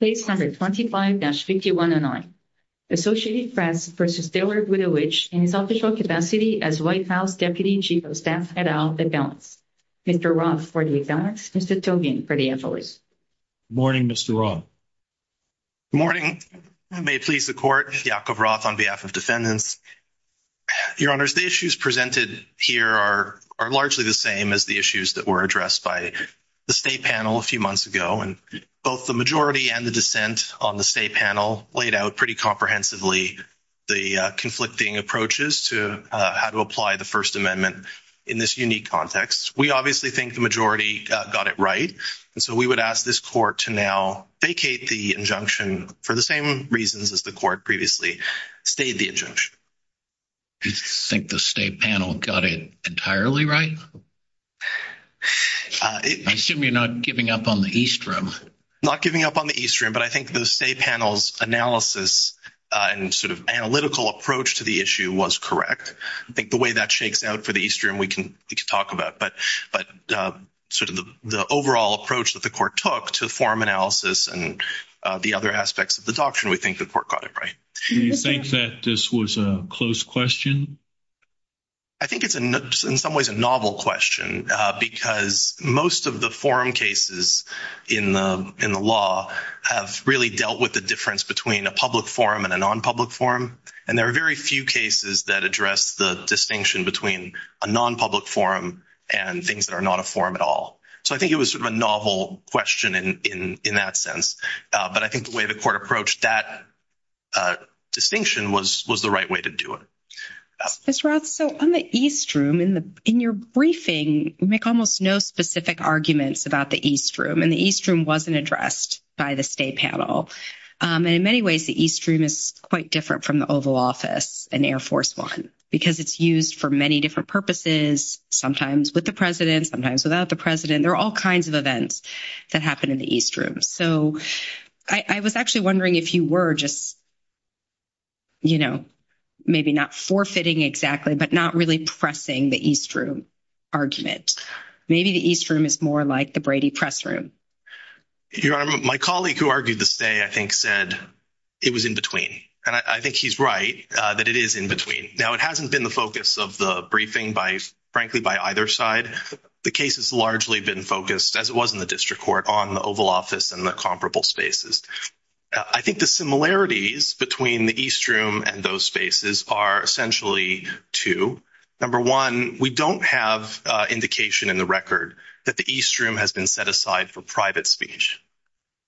Place 125-5109. Associated Press v. Taylor Budowich in his official capacity as White House Deputy Chief of Staff Head of the Affairs. Mr. Roth for the Affairs, Mr. Tobin for the Affairs. Good morning, Mr. Roth. Good morning. May it please the Court, Yakov Roth on behalf of defendants. Your Honors, the issues presented here are largely the same as the issues that were addressed by the State Panel a few months ago. Both the majority and the dissent on the State Panel laid out pretty comprehensively the conflicting approaches to how to apply the First Amendment in this unique context. We obviously think the majority got it right, and so we would ask this Court to now vacate the injunction for the same reasons as the Court previously stayed the injunction. You think the State Panel got it entirely right? I assume you're not giving up on the East Room. Not giving up on the East Room, but I think the State Panel's analysis and sort of analytical approach to the issue was correct. I think the way that shakes out for the East Room we can talk about, but sort of the overall approach that the Court took to the forum analysis and the other aspects of the doctrine, we think the Court got it right. Do you think that this was a close question? I think it's in some ways a novel question because most of the forum cases in the law have really dealt with the difference between a public forum and a non-public forum. And there are very few cases that address the distinction between a non-public forum and things that are not a forum at all. So I think it was sort of a novel question in that sense, but I think the way the Court approached that distinction was the right way to do it. Ms. Roth, so on the East Room, in your briefing, you make almost no specific arguments about the East Room, and the East Room wasn't addressed by the State Panel. And in many ways, the East Room is quite different from the Oval Office and Air Force One because it's used for many different purposes, sometimes with the President, sometimes without the President. There are all kinds of events that happen in the East Room. So I was actually wondering if you were just, you know, maybe not forfeiting exactly, but not really pressing the East Room argument. Maybe the East Room is more like the Brady Press Room. Your Honor, my colleague who argued this day, I think, said it was in between. And I think he's right, that it is in between. Now, it hasn't been the focus of the briefing, frankly, by either side. The case has largely been focused, as it was in the District Court, on the Oval Office and the comparable spaces. I think the similarities between the East Room and those spaces are essentially two. Number one, we don't have indication in the record that the East Room has been set aside for private speech,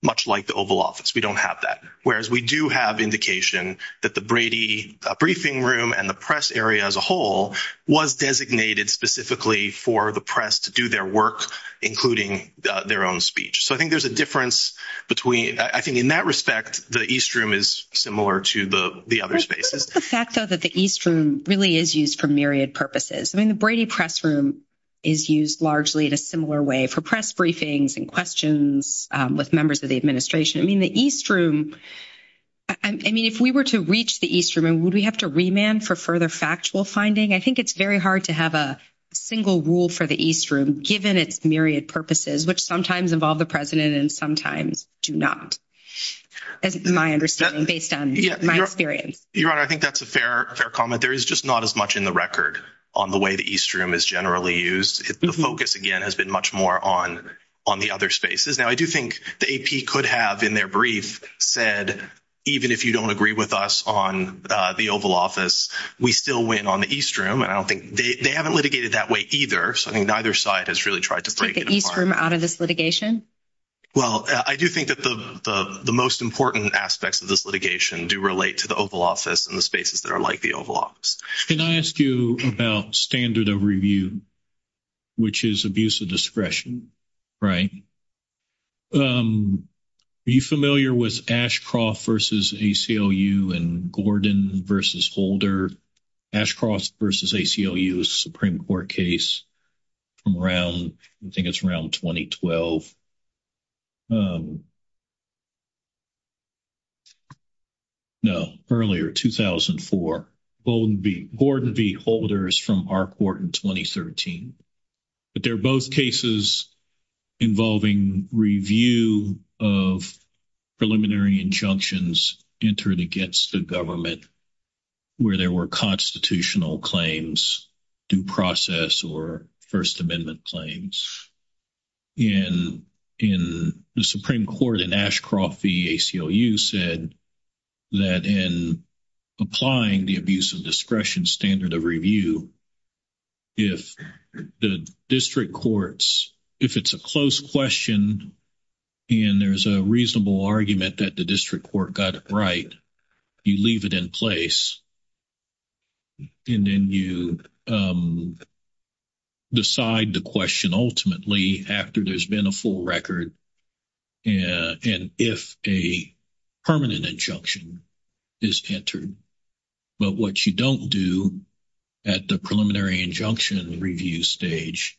much like the Oval Office. We don't have that. Whereas we do have indication that the Brady Briefing Room and the press area as a whole was designated specifically for the press to do their work, including their own speech. So I think there's a difference between—I think in that respect, the East Room is similar to the other spaces. The fact, though, that the East Room really is used for myriad purposes. I mean, the Brady Press Room is used largely in a similar way for press briefings and questions with members of the administration. I mean, the East Room—I mean, if we were to reach the East Room, would we have to remand for further factual finding? I think it's very hard to have a single rule for the East Room, given its myriad purposes, which sometimes involve the President and sometimes do not, as my understanding, based on my experience. Your Honor, I think that's a fair comment. There is just not as much in the record on the way the East Room is generally used. The focus, again, has been much more on the other spaces. Now, I do think the AP could have, in their brief, said, even if you don't agree with us on the Oval Office, we still win on the East Room. And I don't think—they haven't litigated that way either. So I think neither side has really tried to break it apart. Take the East Room out of this litigation? Well, I do think that the most important aspects of this litigation do relate to the Oval Office and the spaces that are like the Oval Office. Can I ask you about standard of review, which is abuse of discretion, right? Are you familiar with Ashcroft v. ACLU and Gordon v. Holder? Ashcroft v. ACLU is a Supreme Court case from around—I think it's around 2012. No, earlier, 2004. Gordon v. Holder is from our court in 2013. But they're both cases involving review of preliminary injunctions entered against the government where there were constitutional claims, due process, or First Amendment claims. And the Supreme Court in Ashcroft v. ACLU said that in applying the abuse of discretion standard of review, if the district courts—if it's a close question and there's a reasonable argument that the district court got it right, you leave it in place and then you decide the question ultimately after there's been a full record and if a permanent injunction is entered. But what you don't do at the preliminary injunction review stage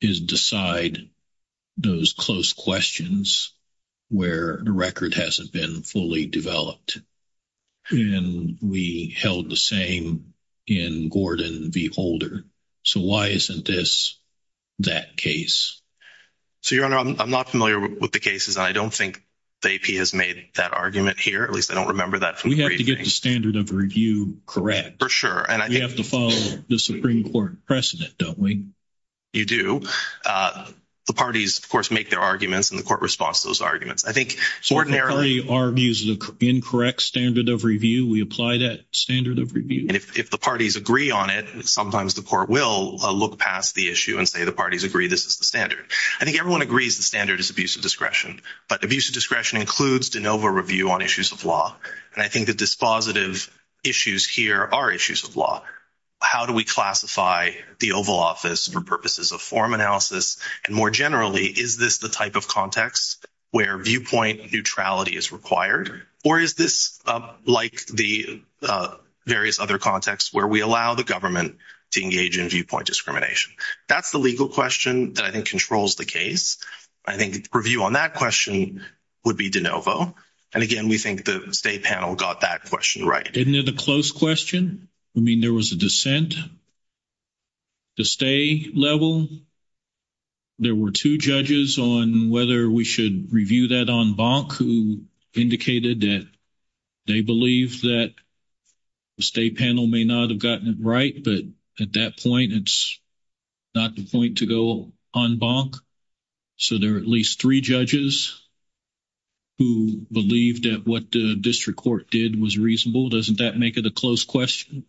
is decide those close questions where the record hasn't been fully developed. And we held the same in Gordon v. Holder. So why isn't this that case? So, Your Honor, I'm not familiar with the cases. I don't think the AP has made that argument here. At least, I don't remember that. We have to get the standard of review correct. For sure. We have to follow the Supreme Court precedent, don't we? You do. The parties, of course, make their arguments and the court responds to those arguments. I think ordinarily— So the party argues the incorrect standard of review, we apply that standard of review? And if the parties agree on it, sometimes the court will look past the issue and say the parties agree this is the standard. I think everyone agrees the standard is abuse of discretion. But abuse of discretion includes de novo review on issues of law. And I think the dispositive issues here are issues of law. How do we classify the Oval Office for purposes of form analysis? And more generally, is this the type of context where viewpoint neutrality is required? Or is this like the various other contexts where we allow the government to engage in viewpoint discrimination? That's the legal question that I think controls the case. I think review on that question would be de novo. And again, we think the State panel got that question right. Isn't it a close question? I mean, there was a dissent. The State level, there were two judges on whether we should review that en banc who indicated that they believe that the State panel may not have gotten it right. But at that point, it's not the point to go en banc. So there are at least three judges who believed that what the district court did was reasonable. Doesn't that make it a close question?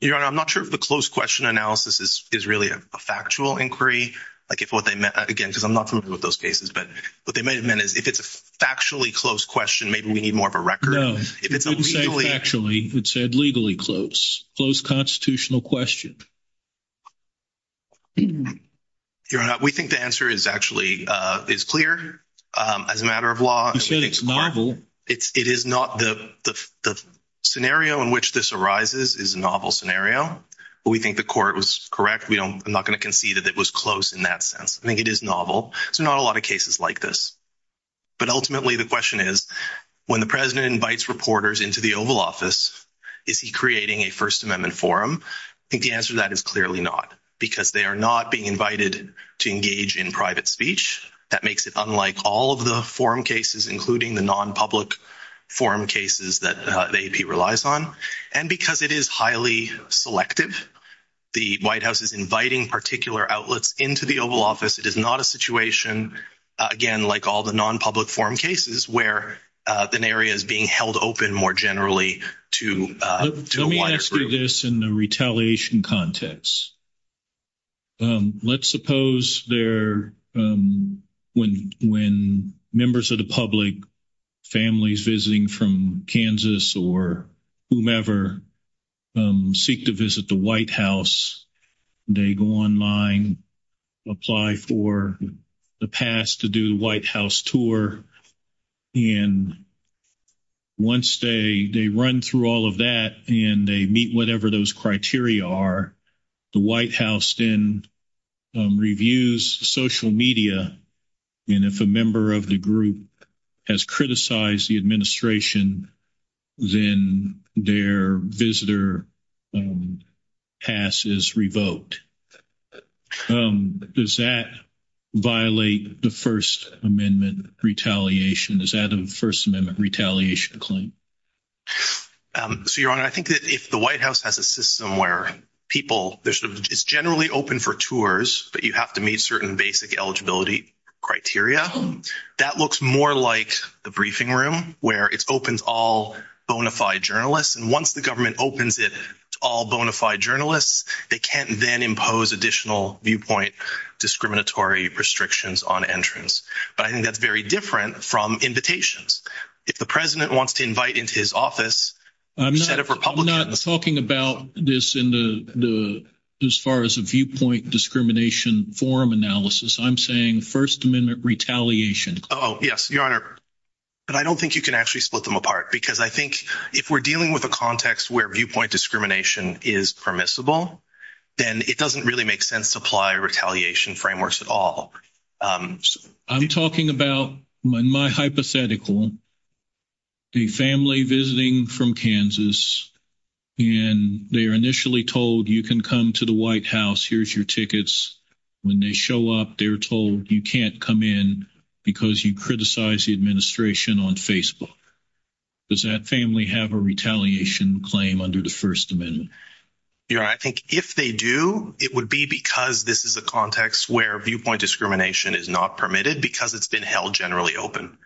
Your Honor, I'm not sure if the close question analysis is really a factual inquiry. Like if what they meant, again, because I'm not familiar with those cases. But what they may have meant is if it's a factually close question, maybe we need more of a record. No, it didn't say factually. It said legally close. Close constitutional question. Your Honor, we think the answer is actually is clear as a matter of law. You said it's novel. It is not the scenario in which this arises is a novel scenario. But we think the court was correct. We don't, I'm not going to concede that it was close in that sense. I think it is novel. So not a lot of cases like this. But ultimately, the question is, when the President invites reporters into the Oval Office, is he creating a First Amendment forum? I think the answer to that is clearly not. Because they are not being invited to engage in private speech. That makes it unlike all of the forum cases, including the non-public forum cases that the AP relies on. And because it is highly selective, the White House is inviting particular outlets into the Oval Office. It is not a situation, again, like all the non-public forum cases, where an area is being held open more generally to a wider group. Let's do this in the retaliation context. Let's suppose there, when members of the public, families visiting from Kansas or whomever, seek to visit the White House, they go online, apply for the pass to do the White House tour. And once they run through all of that and they meet whatever those criteria are, the White House then reviews social media. And if a member of the group has criticized the administration, then their visitor pass is revoked. Does that violate the First Amendment retaliation? Is that a First Amendment retaliation claim? So, Your Honor, I think that if the White House has a system where people, it's generally open for tours, but you have to meet certain basic eligibility criteria, that looks more like the briefing room, where it opens all bona fide journalists. And once the government opens it to all bona fide journalists, they can't then impose additional viewpoint discriminatory restrictions on entrance. But I think that's very different from invitations. If the president wants to invite into his office a set of Republicans- I'm not talking about this as far as a viewpoint discrimination forum analysis. I'm saying First Amendment retaliation. Oh, yes, Your Honor. But I don't think you can actually split them apart, because I think if we're dealing with a context where viewpoint discrimination is permissible, then it doesn't really make sense to apply retaliation frameworks at all. I'm talking about, in my hypothetical, a family visiting from Kansas, and they are initially told you can come to the White House. Here's your tickets. When they show up, they're told you can't come in because you criticize the administration on Facebook. Does that family have a retaliation claim under the First Amendment? Your Honor, I think if they do, it would be because this is a context where viewpoint discrimination is not permitted because it's been held generally open.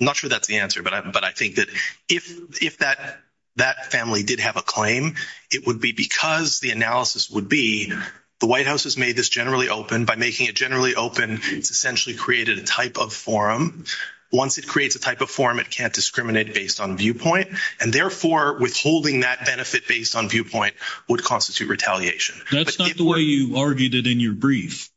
I'm not sure that's the answer, but I think that if that family did have a claim, it would be because the analysis would be the White House has made this generally open. By making it generally open, it's essentially created a type of forum. Once it creates a type of forum, it can't discriminate based on viewpoint, and therefore withholding that benefit based on viewpoint would constitute retaliation. That's not the way you argued it in your brief.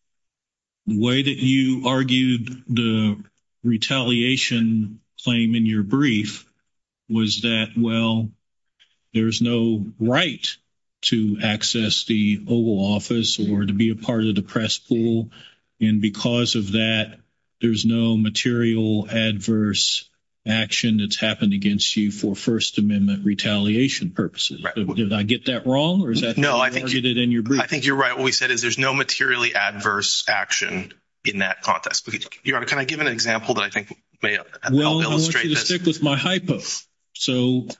The way that you argued the retaliation claim in your brief was that, well, there's no right to access the Oval Office or to be a part of the press pool, and because of that, there's no material adverse action that's happened against you for First Amendment retaliation purposes. Did I get that wrong, or is that how you argued it in your brief? I think you're right. What we said is there's no materially adverse action in that context. Your Honor, can I give an example that I think may help illustrate this? Well, I want you to stick with my hypo.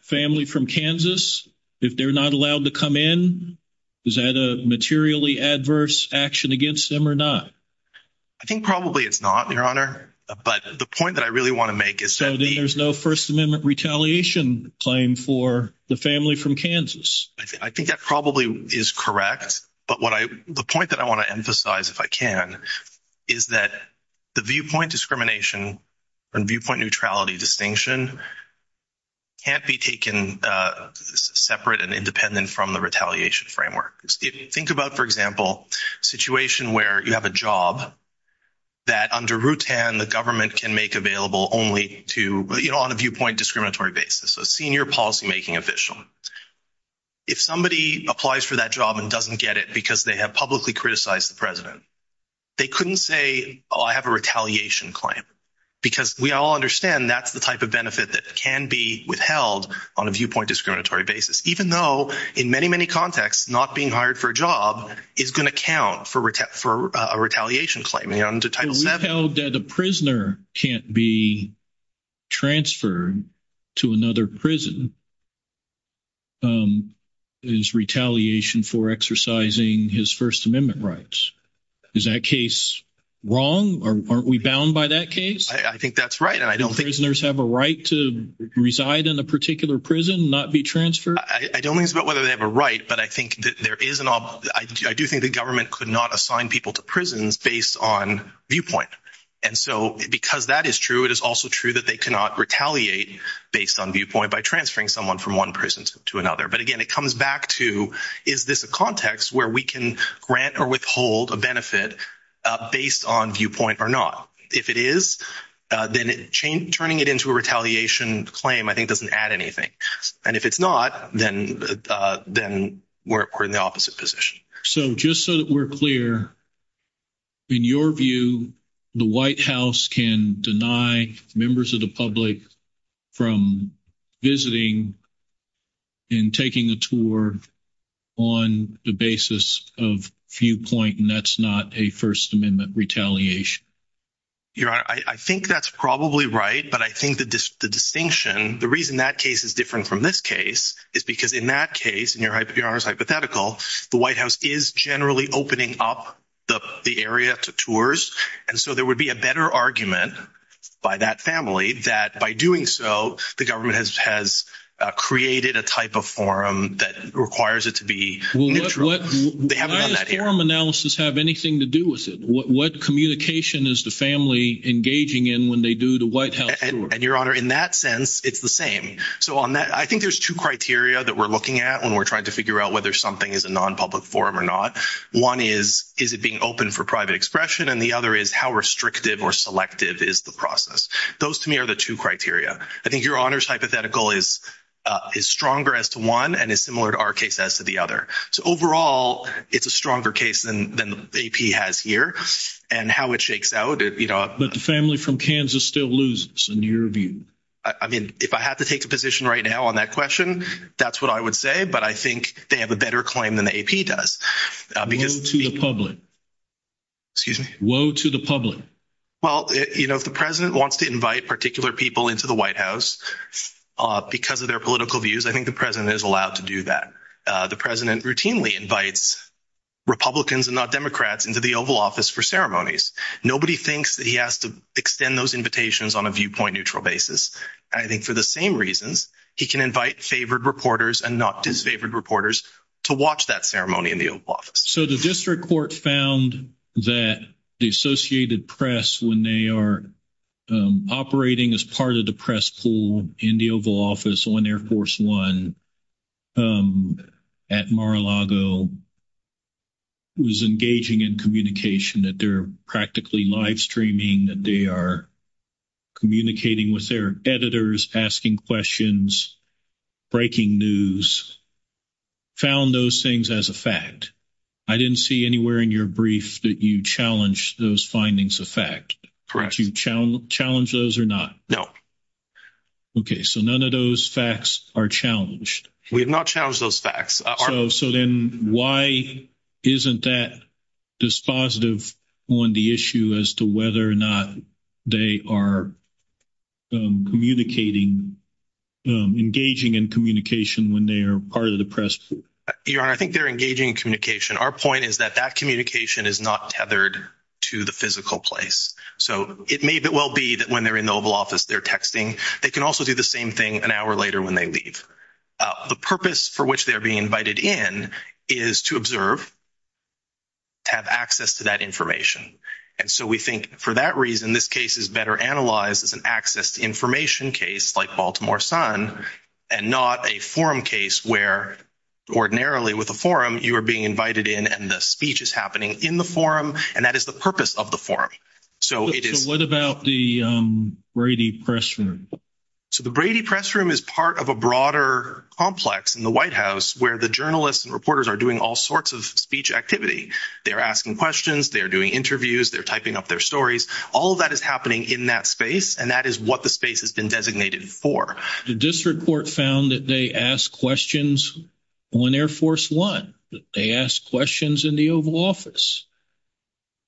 Family from Kansas, if they're not allowed to come in, is that a materially adverse action against them or not? I think probably it's not, Your Honor, but the point that I really want to make is that there's no First Amendment retaliation claim for the family from Kansas. I think that probably is correct, but the point that I want to emphasize, if I can, is that the viewpoint discrimination and viewpoint neutrality distinction can't be taken separate and independent from the example of a situation where you have a job that, under Rutan, the government can make available only on a viewpoint discriminatory basis. A senior policymaking official, if somebody applies for that job and doesn't get it because they have publicly criticized the President, they couldn't say, oh, I have a retaliation claim, because we all understand that's the type of benefit that can be withheld on a viewpoint discriminatory basis, even though in many, many contexts, not being hired for a job is going to count for a retaliation claim. Your Honor, under Title VII- Retail debt, a prisoner can't be transferred to another prison is retaliation for exercising his First Amendment rights. Is that case wrong? Aren't we bound by that case? I think that's right, and I don't think- Do prisoners have a right to reside in a particular prison and not be transferred? I don't think it's about whether they have a right, but I do think the government could not assign people to prisons based on viewpoint. And so, because that is true, it is also true that they cannot retaliate based on viewpoint by transferring someone from one prison to another. But again, it comes back to, is this a context where we can grant or withhold a benefit based on viewpoint or not? If it is, then turning it into a retaliation claim, I think, then we're in the opposite position. So, just so that we're clear, in your view, the White House can deny members of the public from visiting and taking a tour on the basis of viewpoint, and that's not a First Amendment retaliation? Your Honor, I think that's probably right, but I think the distinction, the reason that case is different from this case is because in that case, in your Honor's hypothetical, the White House is generally opening up the area to tours, and so there would be a better argument by that family that by doing so, the government has created a type of forum that requires it to be neutral. Why does forum analysis have anything to do with it? What communication is the family engaging in when they do the White House tours? And your Honor, in that sense, it's the same. So, on that, I think there's two criteria that we're looking at when we're trying to figure out whether something is a non-public forum or not. One is, is it being open for private expression? And the other is, how restrictive or selective is the process? Those, to me, are the two criteria. I think your Honor's hypothetical is stronger as to one and is similar to our case as to the other. So, overall, it's a stronger case than AP has here and how it shakes out. But the family from Kansas still loses, in your view. I mean, if I had to take a position right now on that question, that's what I would say, but I think they have a better claim than the AP does. Woe to the public. Excuse me? Woe to the public. Well, you know, if the President wants to invite particular people into the White House because of their political views, I think the President is allowed to do that. The President routinely invites Republicans and not Democrats into the Oval Office for ceremonies. Nobody thinks that he has to extend those invitations on a viewpoint-neutral basis. I think for the same reasons, he can invite favored reporters and not disfavored reporters to watch that ceremony in the Oval Office. So, the District Court found that the Associated Press, when they are operating as part of the press pool in the Oval Office on Air Force One at Mar-a-Lago, was engaging in communication, that they're practically live streaming, that they are communicating with their editors, asking questions, breaking news, found those things as a fact. I didn't see anywhere in your brief that you challenged those findings of fact. Correct. Did you challenge those or not? No. Okay. So, none of those facts are challenged. We have not challenged those facts. So, then, why isn't that dispositive on the issue as to whether or not they are engaging in communication when they are part of the press pool? Your Honor, I think they're engaging in communication. Our point is that that communication is not tethered to the physical place. So, it may well be that when they're in the Oval Office, they're texting. They can also do the same thing an hour later when they leave. The purpose for which they're being invited in is to observe, to have access to that information. And so, we think, for that reason, this case is better analyzed as an access to information case like Baltimore Sun and not a forum case where, ordinarily, with a forum, you are being invited in and the speech is happening in the forum, and that is the purpose of the forum. So, it is- What about the Brady Press Room? So, the Brady Press Room is part of a broader complex in the White House where the journalists and reporters are doing all sorts of speech activity. They're asking questions. They're doing interviews. They're typing up their stories. All of that is happening in that space, and that is what the space has been designated for. The District Court found that they asked questions when Air Force One. They asked questions in the Oval Office.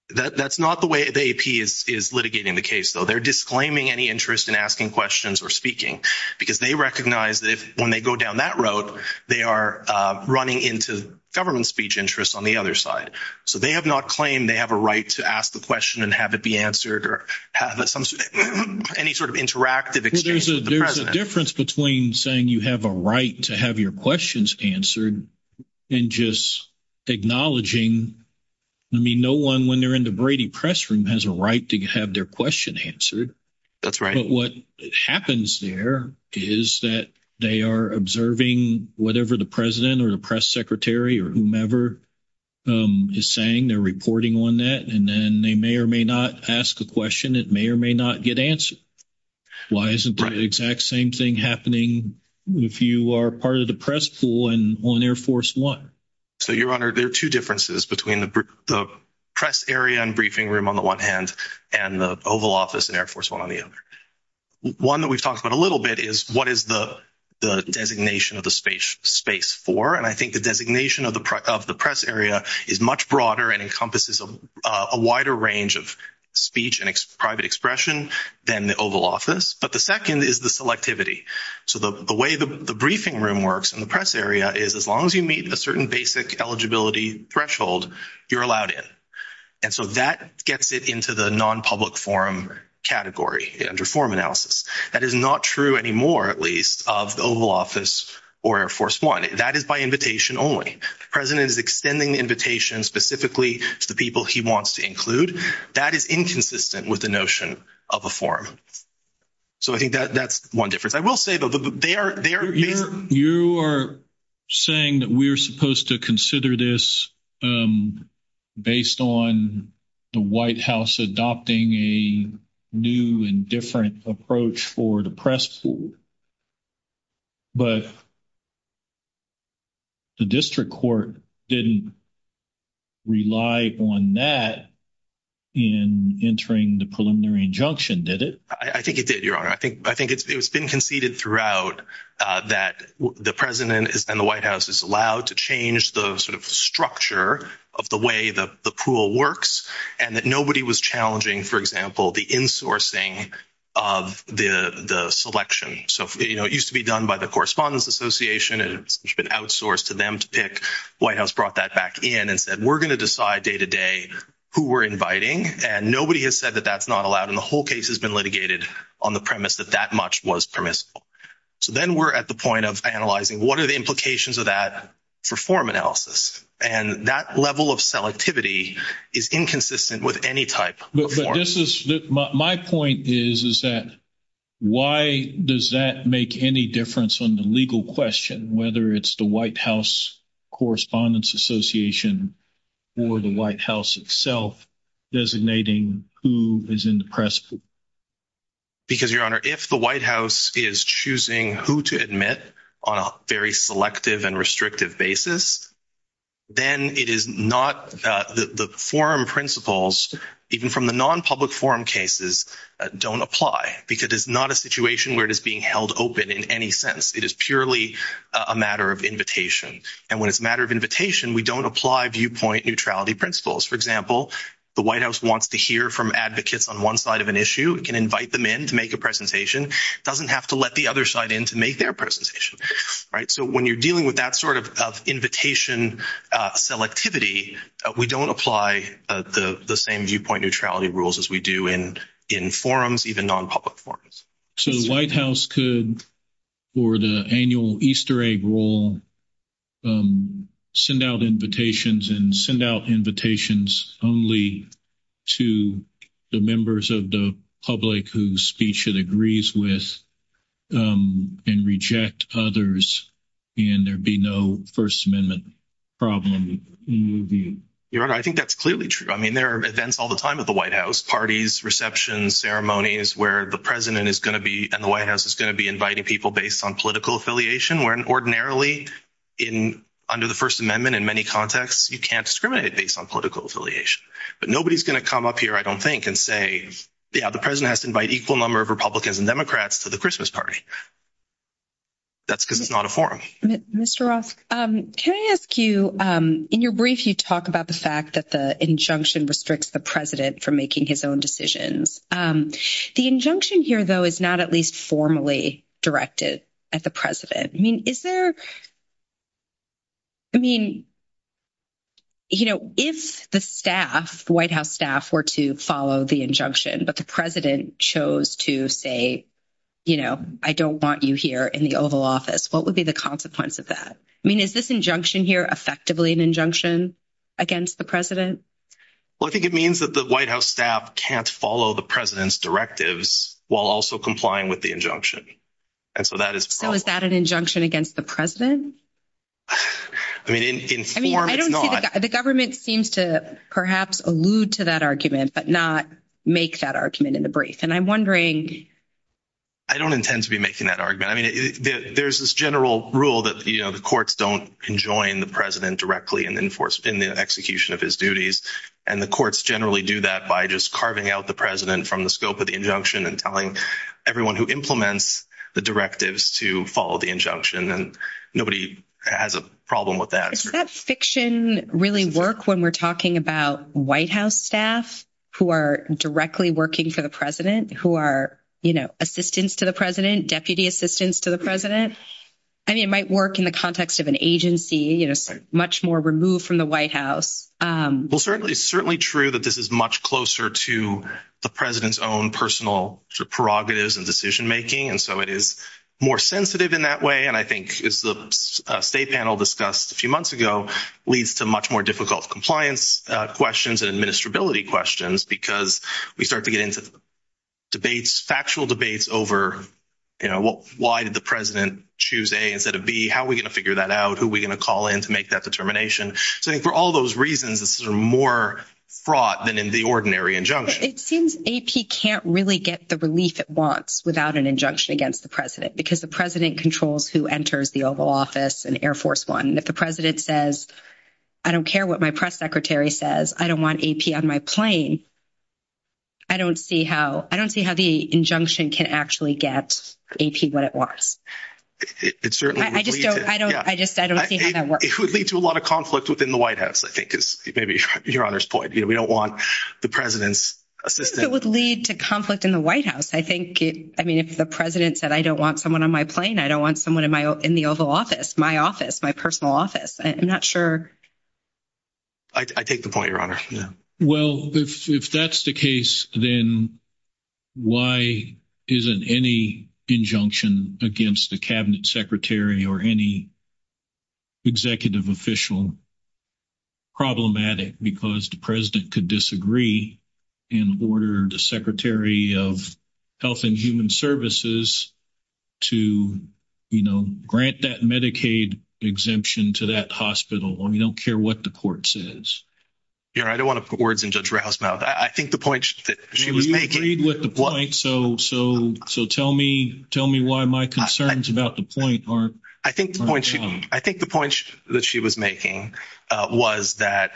That's not the way the AP is litigating the case, though. They're disclaiming any interest in asking questions or speaking because they recognize that if, when they go down that road, they are running into government speech interests on the other side. So, they have not claimed they have a right to ask the question and have it be answered or have any sort of interactive exchange with the president. Well, there's a difference between saying you have a right to have your questions answered and just acknowledging, I mean, no one, when they're in the Brady Press Room, has a right to have their question answered. That's right. But what happens there is that they are observing whatever the president or the press secretary or whomever is saying. They're reporting on that, and then they may or may not ask a question. It may or may not get answered. Why isn't the exact same thing happening if you are part of the press pool on Air Force One? So, Your Honor, there are two differences between the press area and briefing room on the one hand and the Oval Office and Air Force One on the other. One that we've talked about a little bit is what is the designation of the space for? And I think the designation of the press area is much broader and encompasses a wider range of speech and private expression than the Oval Office. But the second is the selectivity. So, the way the briefing room works in the press area is as long as you meet a certain basic eligibility threshold, you're allowed in. And so, that gets it into the non-public forum category under forum analysis. That is not true anymore, at least, of the Oval Office or Air Force One. That is by invitation only. The president is extending the invitation specifically to the people he wants to include. That is inconsistent with the notion of a forum. So, I think that's one difference. I will say, though, they are— the White House adopting a new and different approach for the press pool. But the district court didn't rely on that in entering the preliminary injunction, did it? I think it did, Your Honor. I think it's been conceded throughout that the president and the White House is allowed to change the sort of structure of the way the pool works and that nobody was challenging, for example, the insourcing of the selection. So, you know, it used to be done by the Correspondents Association. It's been outsourced to them to pick. White House brought that back in and said, we're going to decide day-to-day who we're inviting. And nobody has said that that's not allowed. And the whole case has been litigated on the premise that that much was permissible. So, then we're at the point of analyzing what are the implications of that for forum analysis. And that level of selectivity is inconsistent with any type of forum. But this is—my point is, is that why does that make any difference on the legal question, whether it's the White House Correspondents Association or the White House itself designating who is in the press pool? Because, Your Honor, if the White House is choosing who to admit on a very selective and restrictive basis, then it is not—the forum principles, even from the non-public forum cases, don't apply because it's not a situation where it is being held open in any sense. It is purely a matter of invitation. And when it's a matter of invitation, we don't apply viewpoint neutrality principles. For example, the White House wants to hear from advocates on one side of an issue. It can invite them in to make a presentation. It doesn't have to let the other side in to make their presentation, right? So, when you're dealing with that sort of invitation selectivity, we don't apply the same viewpoint neutrality rules as we do in forums, even non-public forums. So, the White House could, for the annual Easter egg roll, send out invitations and send out invitations only to the members of the public whose speech it agrees with and reject others, and there'd be no First Amendment problem. Your Honor, I think that's clearly true. I mean, there are events all the time at the White House, parties, receptions, ceremonies, where the President is going to be, and the White House is going to be inviting people based on political affiliation, where ordinarily, under the First Amendment, in many contexts, you can't discriminate based on political affiliation. But nobody's going to come up here, I don't think, and say, yeah, the President has to invite equal number of Republicans and Democrats to the Christmas party. That's because it's not a forum. Mr. Roth, can I ask you, in your brief, you talk about the fact that the injunction restricts the President from making his own decisions. The injunction here, though, is not at least formally directed at the President. I mean, is there—I mean, you know, if the staff, the White House staff, were to follow the injunction, but the President chose to say, you know, I don't want you here in the Oval Office, what would be the consequence of that? I mean, is this injunction here effectively an injunction against the President? Well, I think it means that the White House staff can't follow the President's directives while also complying with the injunction. And so that is— So is that an injunction against the President? I mean, in form, it's not. The government seems to perhaps allude to that argument, but not make that argument in the brief. And I'm wondering— I don't intend to be making that argument. I mean, there's this general rule that, you know, the courts don't enjoin the President directly in the execution of his duties. And the courts generally do that by just carving out the President from the scope of the injunction and telling everyone who implements the directives to follow the injunction. And nobody has a problem with that. Does that fiction really work when we're talking about White House staff who are directly working for the President, who are, you know, assistants to the President, deputy assistants to the President? I mean, it might work in the context of an agency, you know, much more removed from the White House. Well, certainly, it's certainly true that this is much closer to the President's own personal prerogatives and decision-making. And so it is more sensitive in that way. And I think, as the state panel discussed a few months ago, leads to much more difficult compliance questions and administrability questions because we start to get into debates, factual debates over, you know, why did the President choose A instead of B? How are we going to figure that out? Who are we going to call in to make that determination? So I think for all those reasons, this is more fraught than in the ordinary injunction. It seems AP can't really get the relief it wants without an injunction against the President because the President controls who enters the Oval Office and Air Force One. And if the President says, I don't care what my press secretary says, I don't want AP on my plane, I don't see how the injunction can actually get AP what it wants. I just don't see how that works. It would lead to a lot of conflict within the White House, I think, is maybe Your Honor's point. We don't want the President's assistance. It would lead to conflict in the White House. I think, I mean, if the President said, I don't want someone on my plane, I don't want someone in the Oval Office, my office, my personal office, I'm not sure. I take the point, Your Honor. Well, if that's the case, then why isn't any injunction against the Cabinet Secretary or any executive official problematic? Because the President could disagree and order the Secretary of Health and Human Services to, you know, grant that Medicaid exemption to that hospital when we don't care what the court says. Your Honor, I don't want to put words in Judge Rauh's mouth. I think the point that she was making- You agreed with the point, so tell me why my concerns about the point aren't- I think the point that she was making was that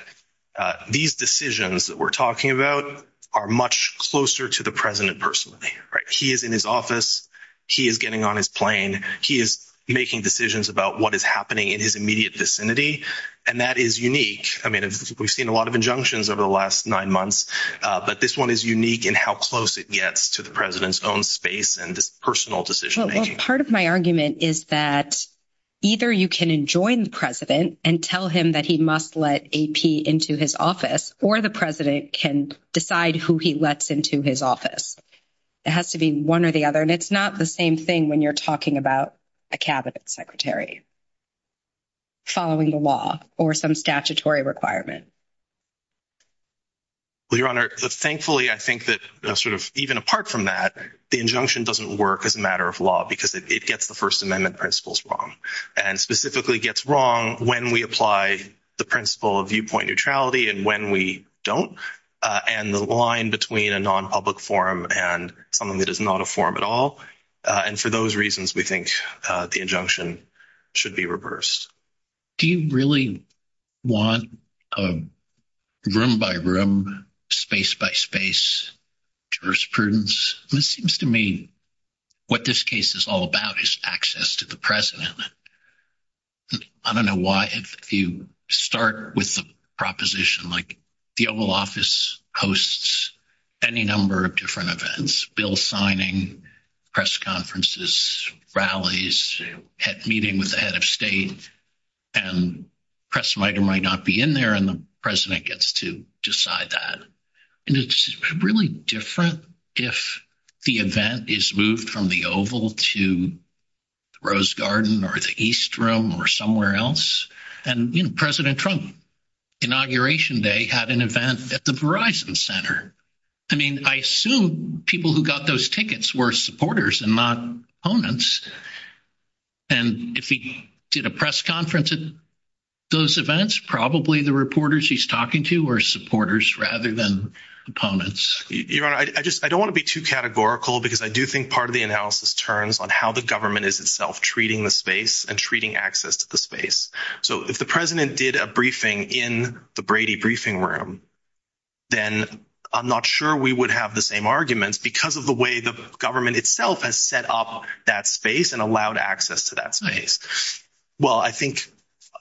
these decisions that we're talking about are much closer to the President personally, right? He is in his office, he is getting on his plane, he is making decisions about what is happening in his immediate vicinity, and that is unique. I mean, we've seen a lot of injunctions over the last nine months, but this one is unique in how close it gets to the President's own space and his personal decision-making. Part of my argument is that either you can enjoin the President and tell him that he must let AP into his office, or the President can decide who he lets into his office. It has to be one or the other, and it's not the same thing when you're talking about a cabinet secretary following the law or some statutory requirement. Well, Your Honor, thankfully, I think that even apart from that, the injunction doesn't work as a matter of law because it gets the First Amendment principles wrong, and specifically gets wrong when we apply the principle of viewpoint neutrality and when we don't, and the line between a non-public forum and something that is not a forum at all. And for those reasons, we think the injunction should be reversed. Do you really want room-by-room, space-by-space jurisprudence? It seems to me what this case is all about is access to the President. I don't know why, if you start with the proposition, like, the Oval Office hosts any number of different events, bill signing, press conferences, rallies, meeting with the head of state, and the press might or might not be in there, and the President gets to decide that. And it's really different if the event is moved from the Oval to the Rose Garden or the East Room or somewhere else. And President Trump, Inauguration Day, had an event at the Verizon Center. I mean, I assume people who got those tickets were supporters and not opponents. And if he did a press conference at those events, probably the reporters he's talking to were supporters rather than opponents. Your Honor, I don't want to be too categorical because I do think part of the analysis turns on how the government is itself treating the space and treating access to the space. So, if the President did a briefing in the Brady Briefing Room, then I'm not sure we would have the same arguments because of the way the government itself has set up that space and allowed access to that space. Well, I think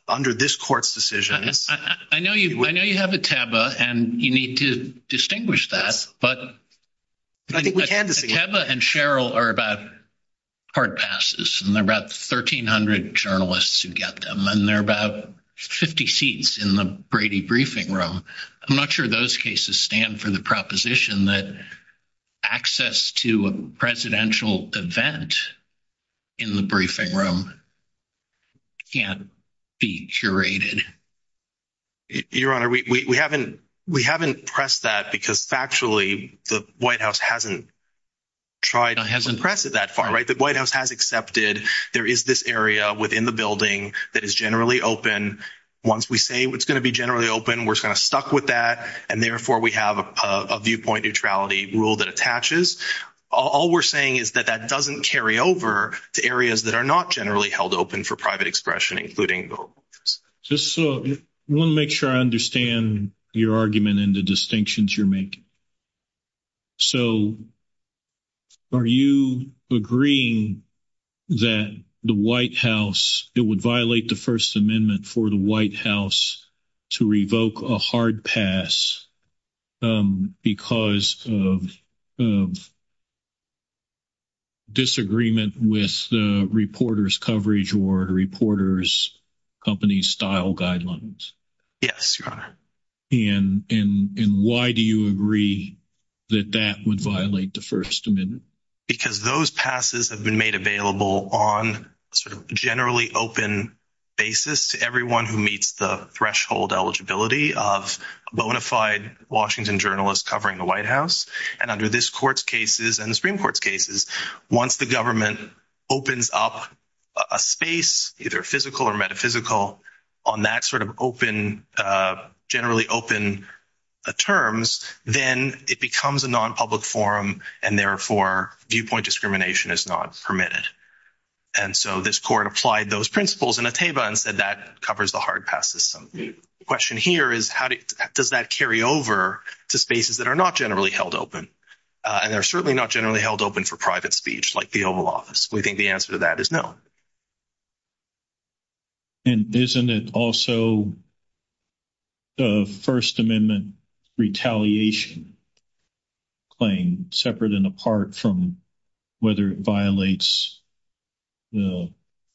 under this Court's decisions... I know you have Eteba, and you need to distinguish that, but Eteba and Sheryl are about hard passes, and there are about 1,300 journalists who get them, and there are about 50 seats in the Brady Briefing Room. I'm not sure those cases stand for the proposition that access to a presidential event in the briefing room can't be curated. Your Honor, we haven't pressed that because, factually, the White House hasn't tried to press it that far. The White House has accepted there is this area within the building that is generally open. Once we say it's going to be generally open, we're stuck with that, and therefore we have a viewpoint neutrality rule that attaches. All we're saying is that that doesn't carry over to areas that are not generally held open for private expression, including voters. I want to make sure I understand your argument and the distinctions you're making. So are you agreeing that the White House... it would violate the First Amendment for the White House to revoke a hard pass because of disagreement with the reporters' coverage or reporters' company style guidelines? Yes, Your Honor. And why do you agree that that would violate the First Amendment? Because those passes have been made available on a generally open basis to everyone who meets the threshold eligibility of a bona fide Washington journalist covering the White House. And under this Court's cases and the Supreme Court's cases, once the government opens up a space, either physical or metaphysical, on that sort of generally open terms, then it becomes a non-public forum, and therefore viewpoint discrimination is not permitted. And so this Court applied those principles in a TABA and said that covers the hard pass system. The question here is, does that carry over to spaces that are not generally held open? And they're certainly not generally held open for private speech, like the Oval Office. We think the answer to that is no. And isn't it also the First Amendment retaliation claim, separate and apart from whether it violates the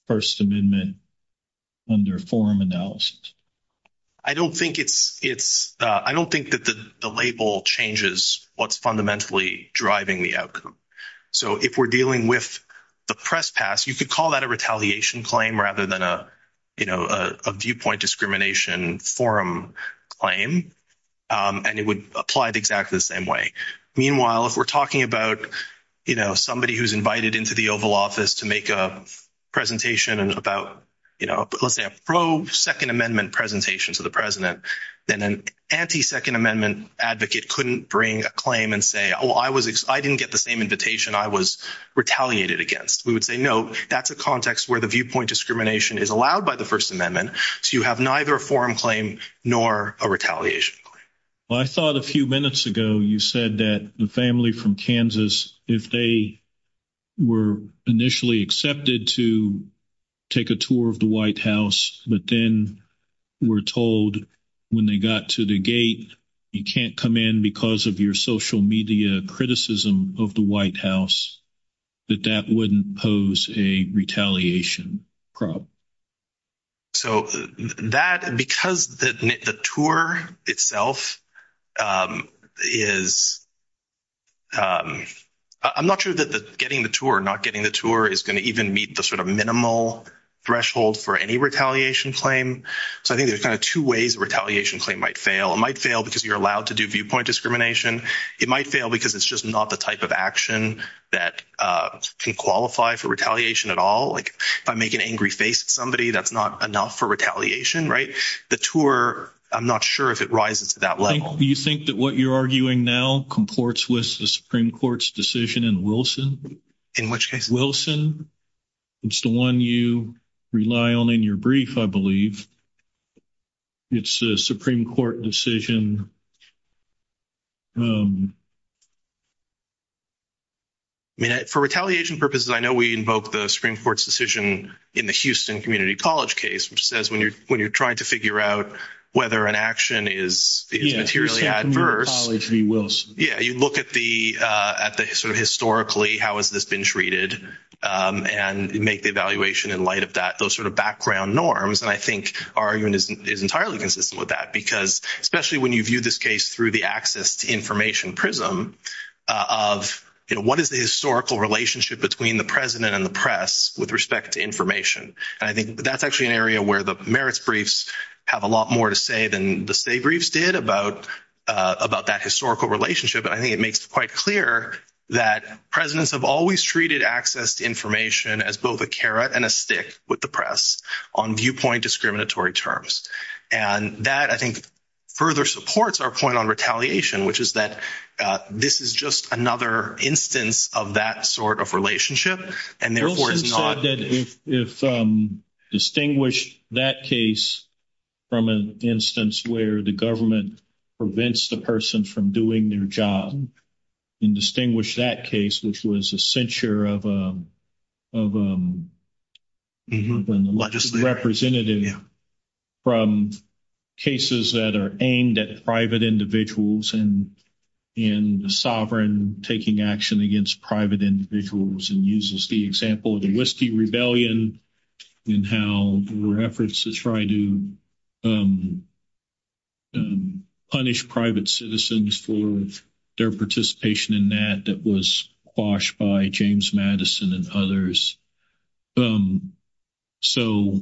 First Amendment under forum analysis? I don't think it's... I don't think that the label changes what's fundamentally driving the outcome. So if we're dealing with the press pass, you could call that a retaliation claim rather than a viewpoint discrimination forum claim, and it would apply exactly the same way. Meanwhile, if we're talking about somebody who's invited into the Oval Office to make a presentation about, let's say, a pro-Second Amendment presentation to the president, then an anti-Second Amendment advocate couldn't bring a claim and say, oh, I didn't get the same invitation I was retaliated against. We would say, no, that's a context where the viewpoint discrimination is allowed by the First Amendment, so you have neither a forum claim nor a retaliation claim. Well, I thought a few minutes ago you said that the family from Kansas, if they were initially accepted to take a tour of the White House, but then were told when they got to the gate, you can't come in because of your social media criticism of the White House, that that wouldn't pose a retaliation problem. So that, because the tour itself is... I'm not sure that getting the tour or not getting the tour is going to even meet the sort of minimal threshold for any retaliation claim. So I think there's kind of two ways a retaliation claim might fail. It might fail because you're allowed to do viewpoint discrimination. It might fail because it's just not the type of action that can qualify for retaliation at all. Like, if I make an angry face at somebody, that's not enough for retaliation, right? The tour, I'm not sure if it rises to that level. You think that what you're arguing now comports with the Supreme Court's decision in Wilson? In which case? Wilson. It's the one you rely on in your brief, I believe. It's the Supreme Court decision. I mean, for retaliation purposes, I know we invoke the Supreme Court's decision in the Houston Community College case, which says when you're trying to figure out whether an action is materially adverse... Yeah, Houston Community College v. Wilson. Yeah, you look at the sort of historically, how has this been treated, and make the evaluation in light of that, those sort of background norms. And I think our argument is entirely consistent with that, because especially when you view this case through the access to information prism of what is the historical relationship between the president and the press with respect to information? And I think that's actually an area where the merits briefs have a lot more to say than the state briefs did about that historical relationship. And I think it makes it quite clear that presidents have always treated access to information as both a carrot and a stick with the press on viewpoint discriminatory terms. And that, I think, further supports our point on retaliation, which is that this is just another instance of that sort of relationship, and therefore it's not... Wilson said that if distinguished that case from an instance where the government prevents the person from doing their job, and distinguish that case, which was a censure of a legislative representative from cases that are aimed at private individuals, and in the sovereign taking action against private individuals, and uses the example of the citizens for their participation in that that was quashed by James Madison and others. So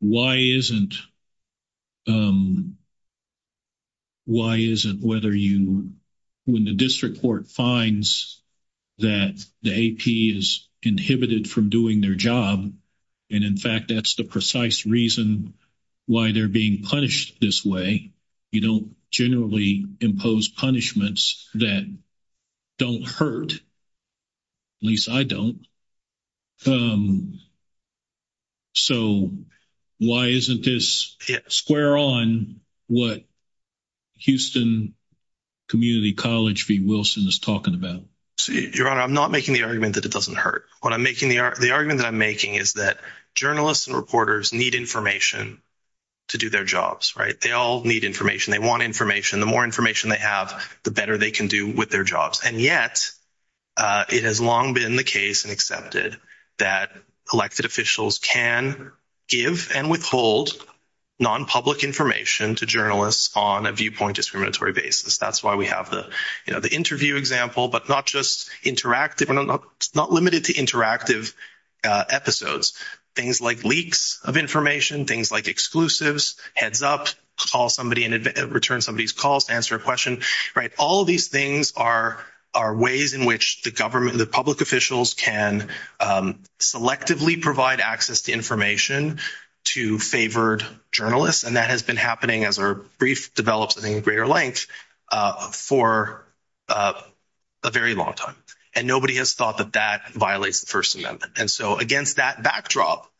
why isn't... Why isn't whether you... When the district court finds that the AP is inhibited from doing their job, and in fact, that's the precise reason why they're being punished this way, you don't generally impose punishments that don't hurt, at least I don't. So why isn't this square on what Houston Community College v. Wilson is talking about? Your Honor, I'm not making the argument that it doesn't hurt. What I'm making... The argument that I'm making is that journalists and reporters need information to do their jobs, right? They all need information. They want information. The more information they have, the better they can do with their jobs. And yet, it has long been the case and accepted that elected officials can give and withhold non-public information to journalists on a viewpoint discriminatory basis. That's why we have the interview example, but not just interactive. It's not limited to interactive episodes. Things like leaks of information, things like exclusives, heads up, call somebody and return somebody's calls to answer a question, right? All of these things are ways in which the government, the public officials can selectively provide access to information to favored journalists. And that has been happening as our brief develops, I think, greater length for a very long time. And nobody has thought that that violates the First Amendment. And so against that backdrop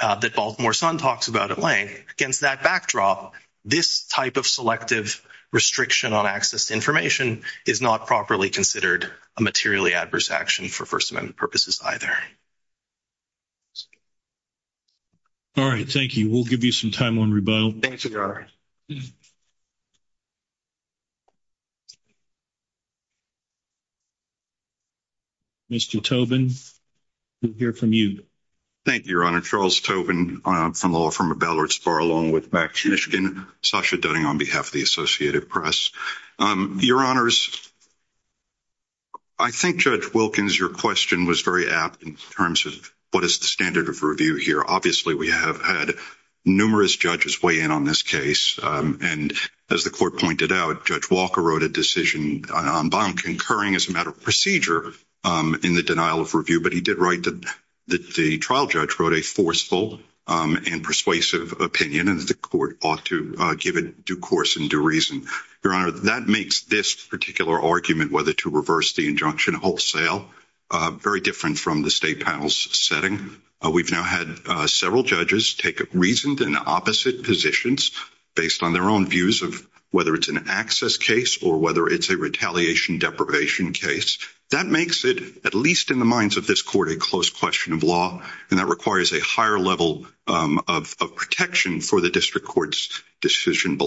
that Baltimore Sun talks about at length, against that backdrop, this type of selective restriction on access to information is not properly considered a materially adverse action for First Amendment purposes either. All right. Thank you. We'll give you some time on rebuttal. Thanks, Your Honor. Mr. Tobin, we'll hear from you. Thank you, Your Honor. Charles Tobin from the law firm of Ballard Spar, along with Max Michigan, Sasha Dunning on behalf of the Associated Press. Your Honors, I think Judge Wilkins, your question was very apt in terms of what is the standard of review here. Obviously, we have had numerous judges weigh in on this case. And as the court pointed out, Judge Walker wrote a decision on bottom concurring as a matter of procedure in the denial of review. But he did write that the trial judge wrote a forceful and persuasive opinion and that the court ought to give it due course and due reason. Your Honor, that makes this particular argument whether to reverse the injunction wholesale very different from the state panel's setting. We've now had several judges take reasoned and opposite positions based on their own views of whether it's an access case or whether it's a retaliation deprivation case. That makes it, at least in the minds of this court, a close question of law. And that requires a higher level of protection for the district court's decision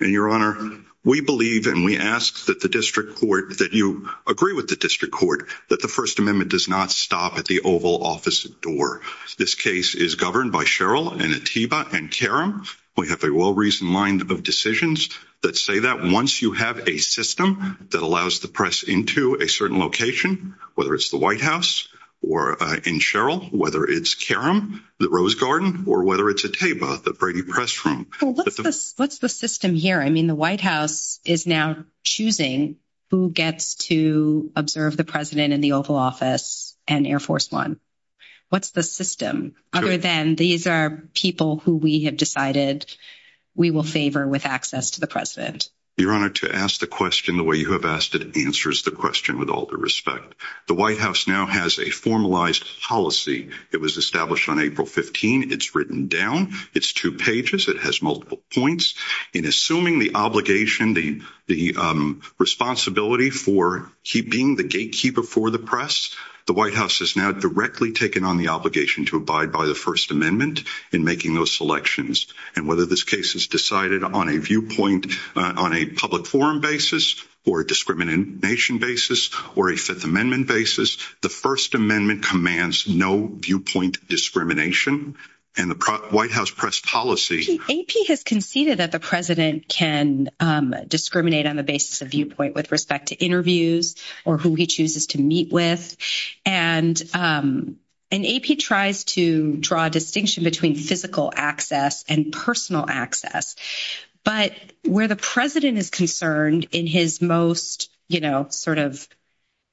Your Honor, we believe and we ask that the district court, that you agree with the district court that the First Amendment does not stop at the Oval Office door. This case is governed by Sherrill and Atiba and Karam. We have a well-reasoned line of decisions that say that once you have a system that allows the press into a certain location, whether it's the White House or in Sherrill, whether it's Karam, the Rose Garden, or whether it's Atiba, the Brady Press What's the system here? I mean, the White House is now choosing who gets to observe the President in the Oval Office and Air Force One. What's the system other than these are people who we have decided we will favor with access to the President? Your Honor, to ask the question the way you have asked it answers the question with all due respect. The White House now has a formalized policy. It was established on April 15. It's written down. It's two pages. It has multiple points. In assuming the obligation, the responsibility for keeping the gatekeeper for the press, the White House has now directly taken on the obligation to abide by the First Amendment in making those selections and whether this case is decided on a viewpoint on a public forum basis or a discrimination basis or a Fifth Amendment basis, the First Amendment commands no viewpoint discrimination and the White House press policy. AP has conceded that the President can discriminate on the basis of viewpoint with respect to interviews or who he chooses to meet with and AP tries to draw a distinction between physical access and personal access. But where the President is in his most, you know, sort of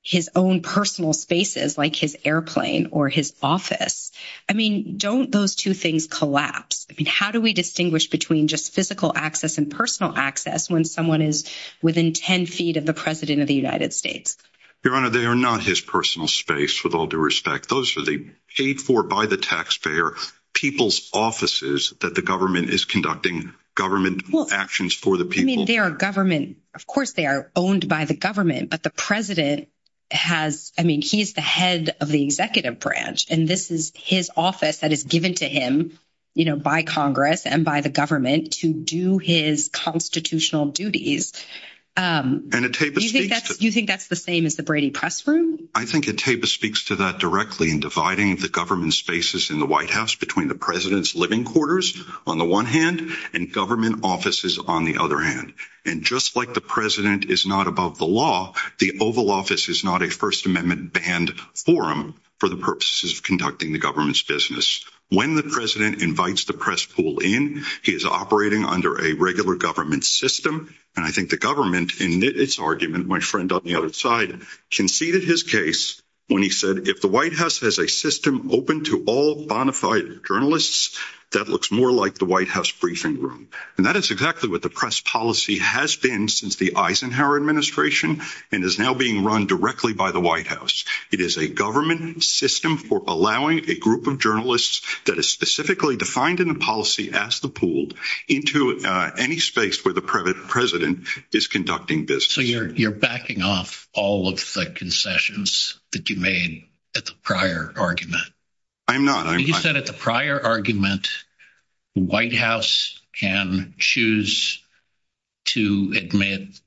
his own personal spaces like his airplane or his office. I mean, don't those two things collapse? I mean, how do we distinguish between just physical access and personal access when someone is within 10 feet of the President of the United States? Your Honor, they are not his personal space with all due respect. Those are the paid for by the taxpayer people's offices that the government is conducting government actions for the people. I mean, of course they are owned by the government, but the President has, I mean, he's the head of the executive branch and this is his office that is given to him, you know, by Congress and by the government to do his constitutional duties. And you think that's the same as the Brady Press Room? I think AP speaks to that directly in dividing the government spaces in the White House between the President's living quarters on the one hand and government offices on the other hand. And just like the President is not above the law, the Oval Office is not a First Amendment banned forum for the purposes of conducting the government's business. When the President invites the press pool in, he is operating under a regular government system. And I think the government in its argument, my friend on the other side, conceded his case when he said, if the White House has a system open to all bona fide journalists, that looks more like the White House briefing room. And that is exactly what the press policy has been since the Eisenhower administration and is now being run directly by the White House. It is a government system for allowing a group of journalists that is specifically defined in the policy as the pooled into any space where the President is conducting business. So you're backing off all of the concessions that you made at the prior argument? I'm not. You said at the prior argument, the White House can choose to admit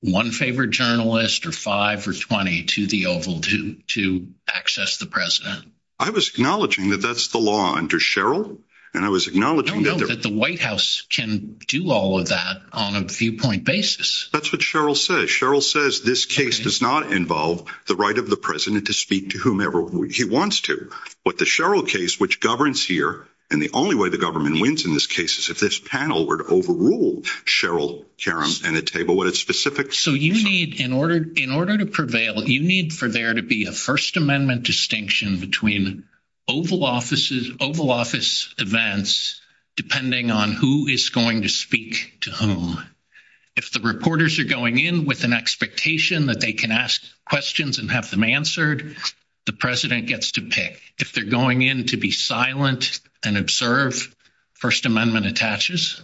one favorite journalist or five or 20 to the Oval to access the President. I was acknowledging that that's the law under Sherrill. And I was acknowledging that the White House can do all of that on a viewpoint basis. That's what Sherrill says. Sherrill says this case does not involve the right of the President to speak to whomever he wants to. But the Sherrill case, which governs here, and the only way the government wins in this case is if this panel were to overrule Sherrill Karam and a table with a specific. So you need in order in order to prevail, you need for there to be a First Amendment distinction between Oval offices, Oval Office events, depending on who is going to speak to whom. If the reporters are going in with an expectation that they can ask questions and have them answered, the president gets to pick if they're going in to be silent and observe. First Amendment attaches.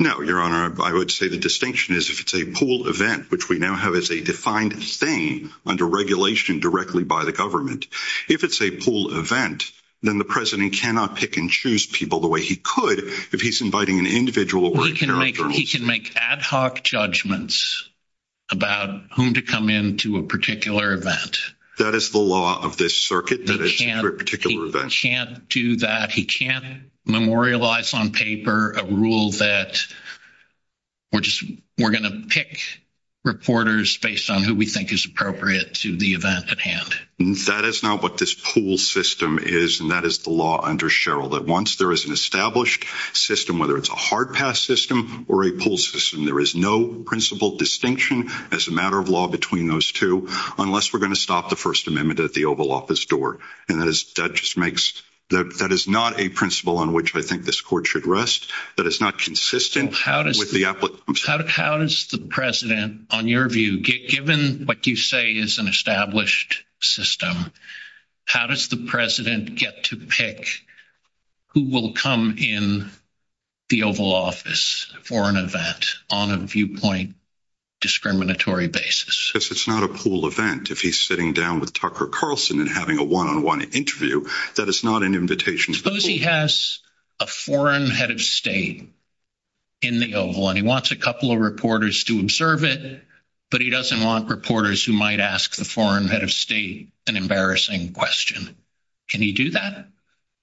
No, Your Honor, I would say the distinction is if it's a pool event, which we now have as a defined thing under regulation directly by the government. If it's a pool event, then the president cannot pick and choose people the way he could. If he's inviting an individual, he can make he can make ad hoc judgments about whom to come in to a particular event. That is the law of this circuit, that it's a particular event. He can't do that. He can't memorialize on paper a rule that we're just we're going to pick reporters based on who we think is appropriate to the event at hand. That is not what this pool system is, and that is the law under Sherrill, that once there is an established system, whether it's a hard pass system or a pool system, there is no principle distinction as a matter of law between those two, unless we're going to stop the First Amendment at the Oval Office door. And that is that just makes that that is not a principle on which I think this court should rest. That is not consistent with the applicant. How does the president, on your view, given what you say is an established system, how does the president get to pick who will come in the Oval Office for an event on a viewpoint discriminatory basis? Because it's not a pool event. If he's sitting down with Tucker Carlson and having a one on one interview, that is not an invitation. Suppose he has a foreign head of state in the Oval and he wants a couple of reporters to observe it, but he doesn't want reporters who might ask the foreign head of state an embarrassing question. Can he do that?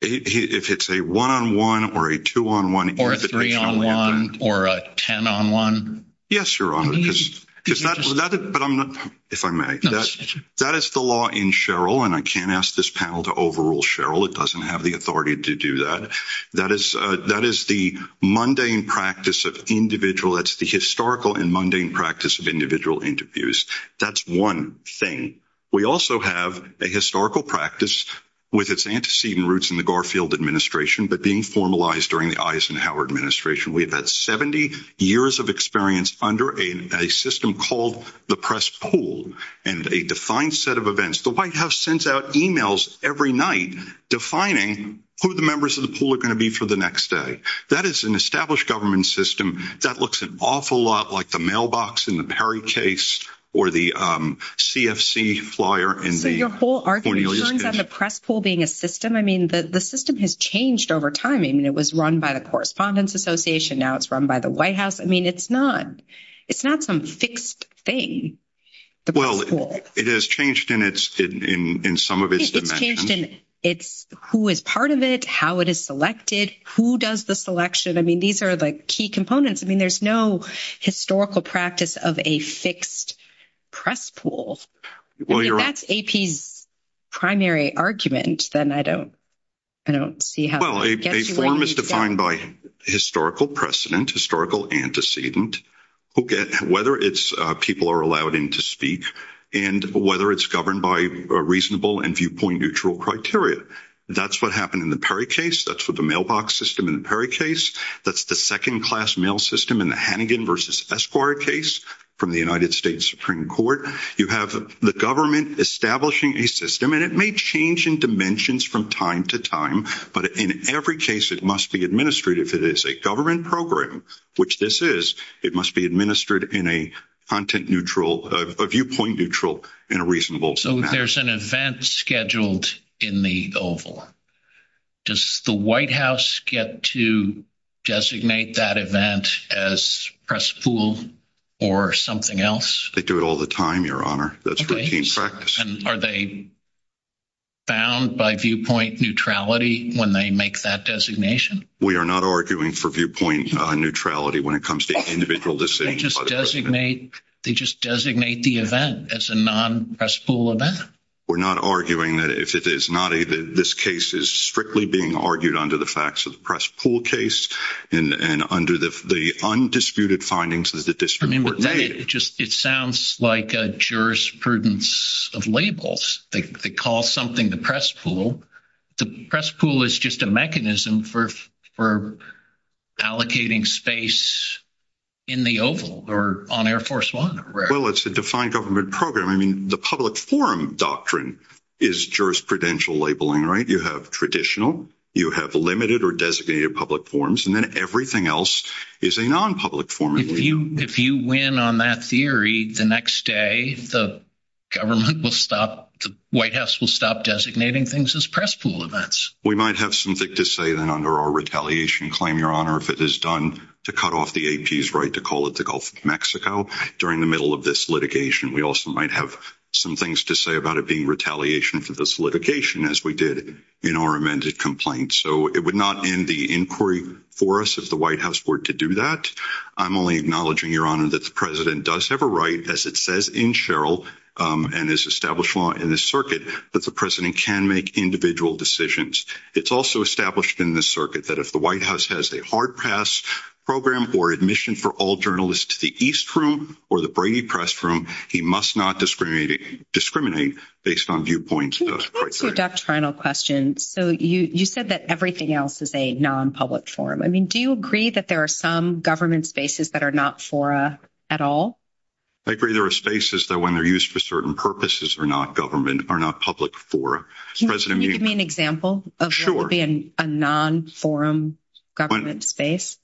If it's a one on one or a two on one or a three on one or a 10 on one? Yes, Your Honor. But if I may, that is the law in Sherrill. And I can't ask this panel to overrule Sherrill. It doesn't have the authority to do that. That is that is the mundane practice of individual. That's the historical and mundane practice of individual interviews. That's one thing. We also have a historical practice with its antecedent roots in the Garfield administration, but being formalized during the Eisenhower administration, we've had 70 years of experience under a system called the press pool and a defined set of events. The White House sends out emails every night defining who the members of the pool are going to be for the next day. That is an established government system. That looks an awful lot like the mailbox in the Perry case or the CFC flyer. And so your whole argument turns out the press pool being a system. I mean, the system has changed over time. I mean, it was run by the Correspondents Association. Now it's run by the White House. I mean, it's not it's not some fixed thing. The well, it has changed in its in some of its changed in its who is part of it, how it is selected, who does the selection. I mean, these are the key components. I mean, there's no historical practice of a fixed press pool. That's AP's primary argument. Then I don't I don't see how well a form is defined by historical precedent, historical antecedent, who get whether it's people are allowed in to speak and whether it's governed by a reasonable and viewpoint neutral criteria. That's what happened in the Perry case. That's what the mailbox system in the Perry case. That's the second class mail system in the Hannigan versus Esquire case from the United States Supreme Court. You have the government establishing a system, and it may change in dimensions from time to time. But in every case, it must be administrative. If it is a government program, which this is, it must be administered in a content neutral viewpoint, neutral and reasonable. So there's an event scheduled in the oval. Does the White House get to designate that event as press pool or something else? They do it all the time, Your Honor. That's routine practice. Are they bound by viewpoint neutrality when they make that designation? We are not arguing for viewpoint neutrality when it comes to individual decisions. They just designate the event as a non-press pool event. We're not arguing that if it is not, this case is strictly being argued under the facts of the press pool case and under the undisputed findings as the district were made. It sounds like a jurisprudence of labels. They call something the press pool. The press pool is just a mechanism for allocating space in the oval or on Air Force One. Well, it's a defined government program. The public forum doctrine is jurisprudential labeling, right? You have traditional, you have limited or designated public forums, and then everything else is a non-public forum. If you win on that theory, the next day the government will stop, the White House will stop designating things as press pool events. We might have something to say then under our retaliation claim, Your Honor, if it is done to cut off the AP's right to call it the Gulf of Mexico during the middle of this litigation. We also might have some things to say about it being retaliation for this litigation as we did in our amended complaint. So it would not end the inquiry for us if the White House were to do that. I'm only acknowledging, Your Honor, that the president does have a right, as it says in Sherrill and is established law in this circuit, that the president can make individual decisions. It's also established in this circuit that if the White House has a hard pass program or admission for all journalists to the East Room or the Brady Press Room, he must not discriminate based on viewpoints. That's a doctrinal question. So you said that everything else is a non-public forum. I mean, do you agree that there are some government spaces that are not fora at all? I agree there are spaces that when they're used for certain purposes are not government, are not public fora. Can you give me an example of what would be a non-forum government space?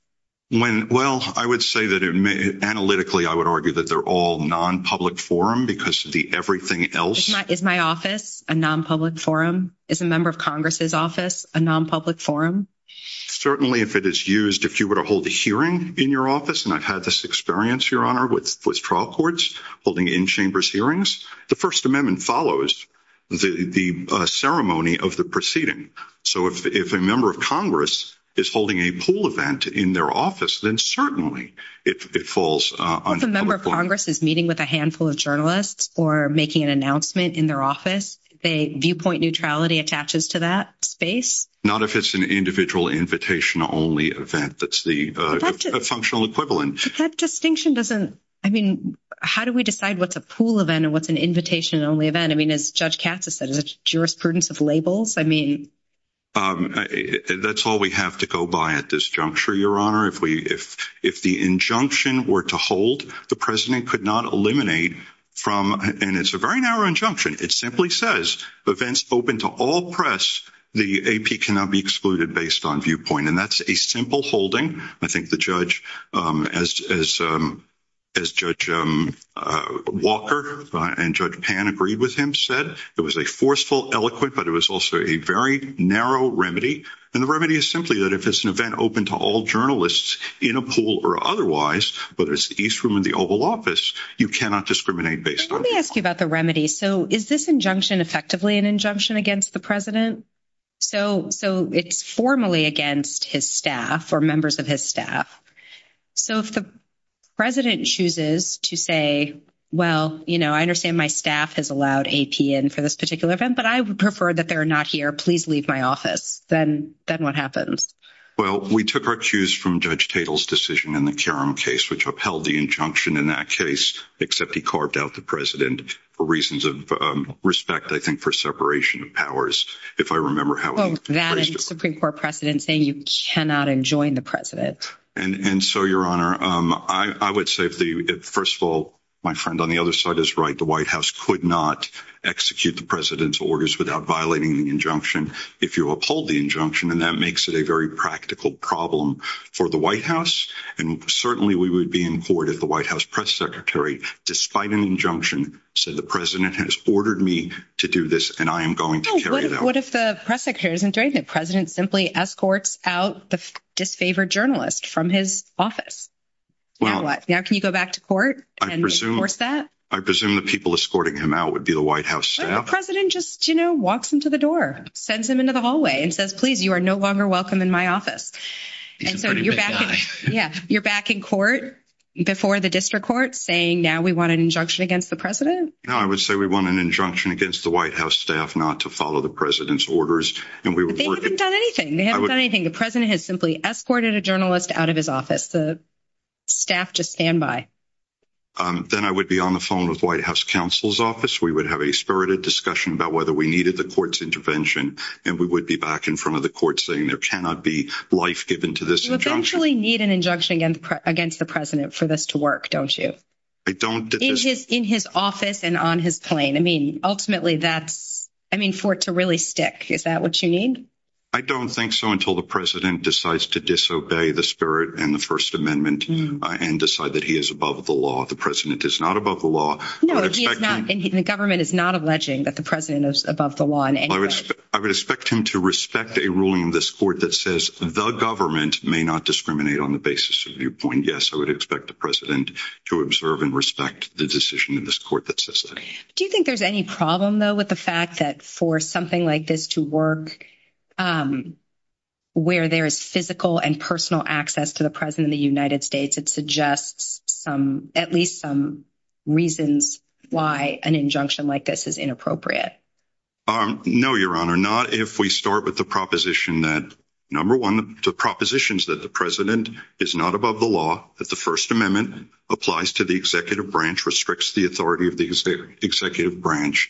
Well, I would say that analytically, I would argue that they're all non-public forum because of the everything else. Is my office a non-public forum? Is a member of Congress's office a non-public forum? Certainly, if it is used, if you were to hold a hearing in your office, and I've had this experience, Your Honor, with trial courts holding in-chambers hearings, the First Amendment follows the ceremony of the proceeding. So if a member of Congress is holding a pool event in their office, then certainly, it falls on public law. If a member of Congress is meeting with a handful of journalists or making an announcement in their office, viewpoint neutrality attaches to that space? Not if it's an individual invitation-only event that's the functional equivalent. But that distinction doesn't, I mean, how do we decide what's a pool event and what's an invitation-only event? I mean, as Judge Katz has said, it's a jurisprudence of labels. I mean, that's all we have to go by at this juncture, Your Honor. If the injunction were to hold, the president could not eliminate from, and it's a very narrow injunction. It simply says, events open to all press, the AP cannot be excluded based on viewpoint. And that's a simple holding. I think the judge, as Judge Walker and Judge Pan agreed with him, said, it was a forceful, eloquent, but it was also a very narrow remedy. And the remedy is simply that if it's an event open to all journalists in a pool or otherwise, but it's the East Room in the Oval Office, you cannot discriminate based on viewpoint. Let me ask you about the remedy. So is this injunction effectively an injunction against the president? So it's formally against his staff or members of his staff. So if the president chooses to say, well, I understand my staff has allowed AP in for this particular event, but I would prefer that they're not here. Please leave my office. Then what happens? Well, we took our cues from Judge Tatel's decision in the Karam case, which upheld the injunction in that case, except he carved out the president for reasons of respect, I think, for separation of powers. If I remember how- Oh, that and the Supreme Court precedent saying you cannot enjoin the president. And so, Your Honor, I would say, first of all, on the other side is right. The White House could not execute the president's orders without violating the injunction if you uphold the injunction. And that makes it a very practical problem for the White House. And certainly we would be in court if the White House press secretary, despite an injunction, said the president has ordered me to do this. And I am going to carry it out. What if the press secretary isn't doing it? The president simply escorts out the disfavored journalist from his office. Now what? Now can you go back to court? And force that? I presume the people escorting him out would be the White House staff. The president just, you know, walks into the door, sends him into the hallway and says, please, you are no longer welcome in my office. He's a pretty big guy. Yeah. You're back in court before the district court saying, now we want an injunction against the president? No, I would say we want an injunction against the White House staff not to follow the president's orders. And we would work- They haven't done anything. They haven't done anything. The president has simply escorted a journalist out of his office. The staff just stand by. Then I would be on the phone with White House counsel's office. We would have a spirited discussion about whether we needed the court's intervention. And we would be back in front of the court saying there cannot be life given to this injunction. You eventually need an injunction against the president for this to work, don't you? I don't- In his office and on his plane. I mean, ultimately that's, I mean, for it to really stick. Is that what you need? I don't think so until the president decides to disobey the spirit and the First Amendment and decide that he is above the law. The president is not above the law. No, he is not. The government is not alleging that the president is above the law in any way. I would expect him to respect a ruling in this court that says the government may not discriminate on the basis of viewpoint. Yes, I would expect the president to observe and respect the decision in this court that says that. Do you think there's any problem, though, with the fact that for something like this to work, where there is physical and personal access to the president of the United States, it suggests at least some reasons why an injunction like this is inappropriate? No, Your Honor. Not if we start with the proposition that, number one, the propositions that the president is not above the law, that the First Amendment applies to the executive branch, restricts the authority of the executive branch.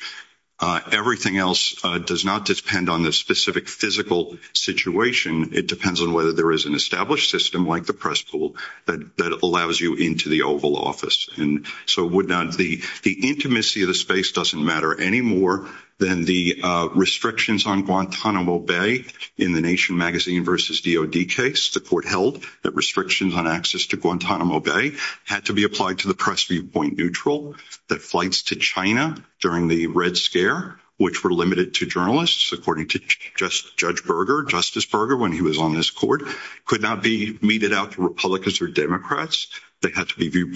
Everything else does not depend on the specific physical situation. It depends on whether there is an established system like the press pool that allows you into the Oval Office. The intimacy of the space doesn't matter any more than the restrictions on Guantanamo Bay in the Nation Magazine versus DOD case. The court held that restrictions on access to Guantanamo Bay had to be applied to the press viewpoint neutral, that flights to China during the Red Scare, which were limited to journalists, according to Judge Berger, Justice Berger, when he was on this court, could not be meted out to Republicans or Democrats. They had to be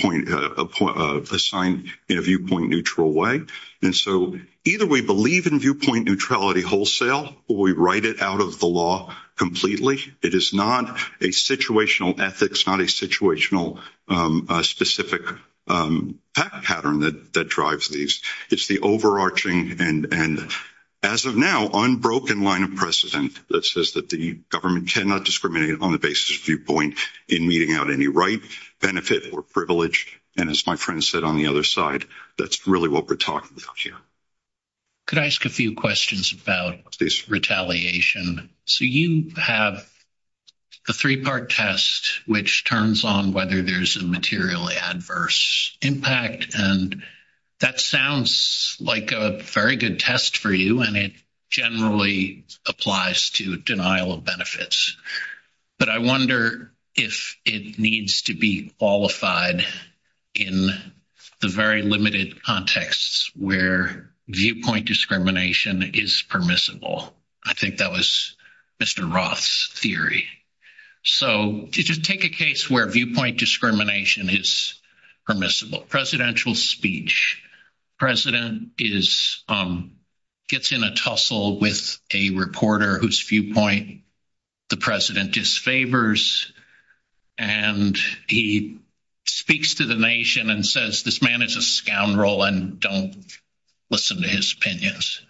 assigned in a viewpoint neutral way. And so either we believe in viewpoint neutrality wholesale or we write it out of the law completely. It is not a situational ethics, not a situational specific pattern that drives these. It's the overarching and, as of now, unbroken line of precedent that says that the government cannot discriminate on the basis of viewpoint in meting out any right, benefit, or privilege. And as my friend said on the other side, that's really what we're talking about here. Could I ask a few questions about retaliation? So you have a three-part test which turns on whether there's a materially adverse impact. And that sounds like a very good test for you, and it generally applies to denial of But I wonder if it needs to be qualified in the very limited contexts where viewpoint discrimination is permissible. I think that was Mr. Roth's theory. So just take a case where viewpoint discrimination is permissible. Presidential speech. President gets in a tussle with a reporter whose viewpoint the president disfavors, and he speaks to the nation and says, this man is a scoundrel and don't listen to his opinions.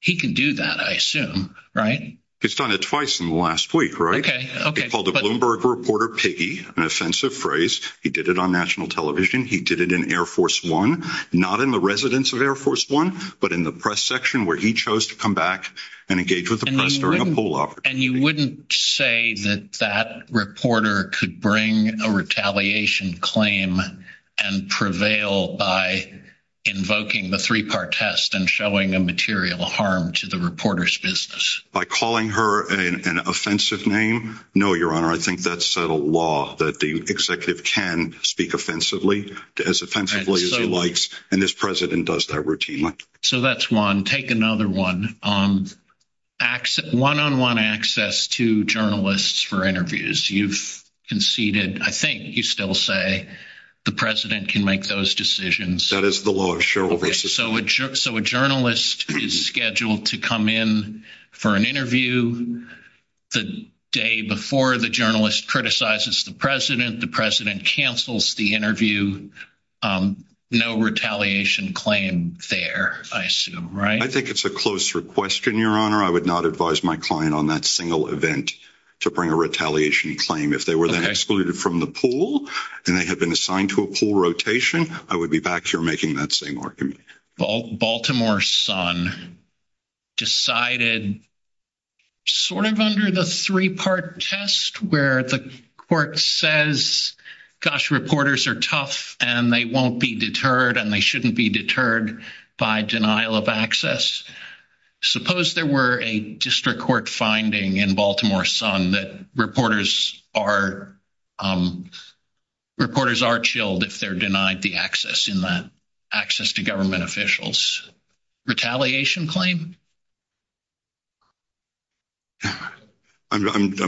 He can do that, I assume, right? He's done it twice in the last week, right? He called the Bloomberg reporter piggy, an offensive phrase. He did it on national television. He did it in Air Force One, not in the residence of Air Force One, but in the press section where he chose to come back and engage with the press during a poll opportunity. And you wouldn't say that that reporter could bring a retaliation claim and prevail by invoking the three-part test and showing a material harm to the reporter's business? By calling her an offensive name? No, Your Honor. I think that's a law that the executive can speak offensively, as offensively as he likes. And this president does that routinely. So that's one. Take another one. One-on-one access to journalists for interviews. You've conceded, I think you still say, the president can make those decisions. That is the law of Cheryl versus. So a journalist is scheduled to come in for an interview the day before the journalist criticizes the president. The president cancels the interview. No retaliation claim there, I assume, right? I think it's a closer question, Your Honor. I would not advise my client on that single event to bring a retaliation claim. If they were then excluded from the pool and they had been assigned to a pool rotation, I would be back here making that same argument. Well, Baltimore Sun decided sort of under the three-part test where the court says, gosh, reporters are tough and they won't be deterred and they shouldn't be deterred by denial of access. Suppose there were a district court finding in Baltimore Sun that reporters are chilled if they're denied the access in that access to government officials. Retaliation claim?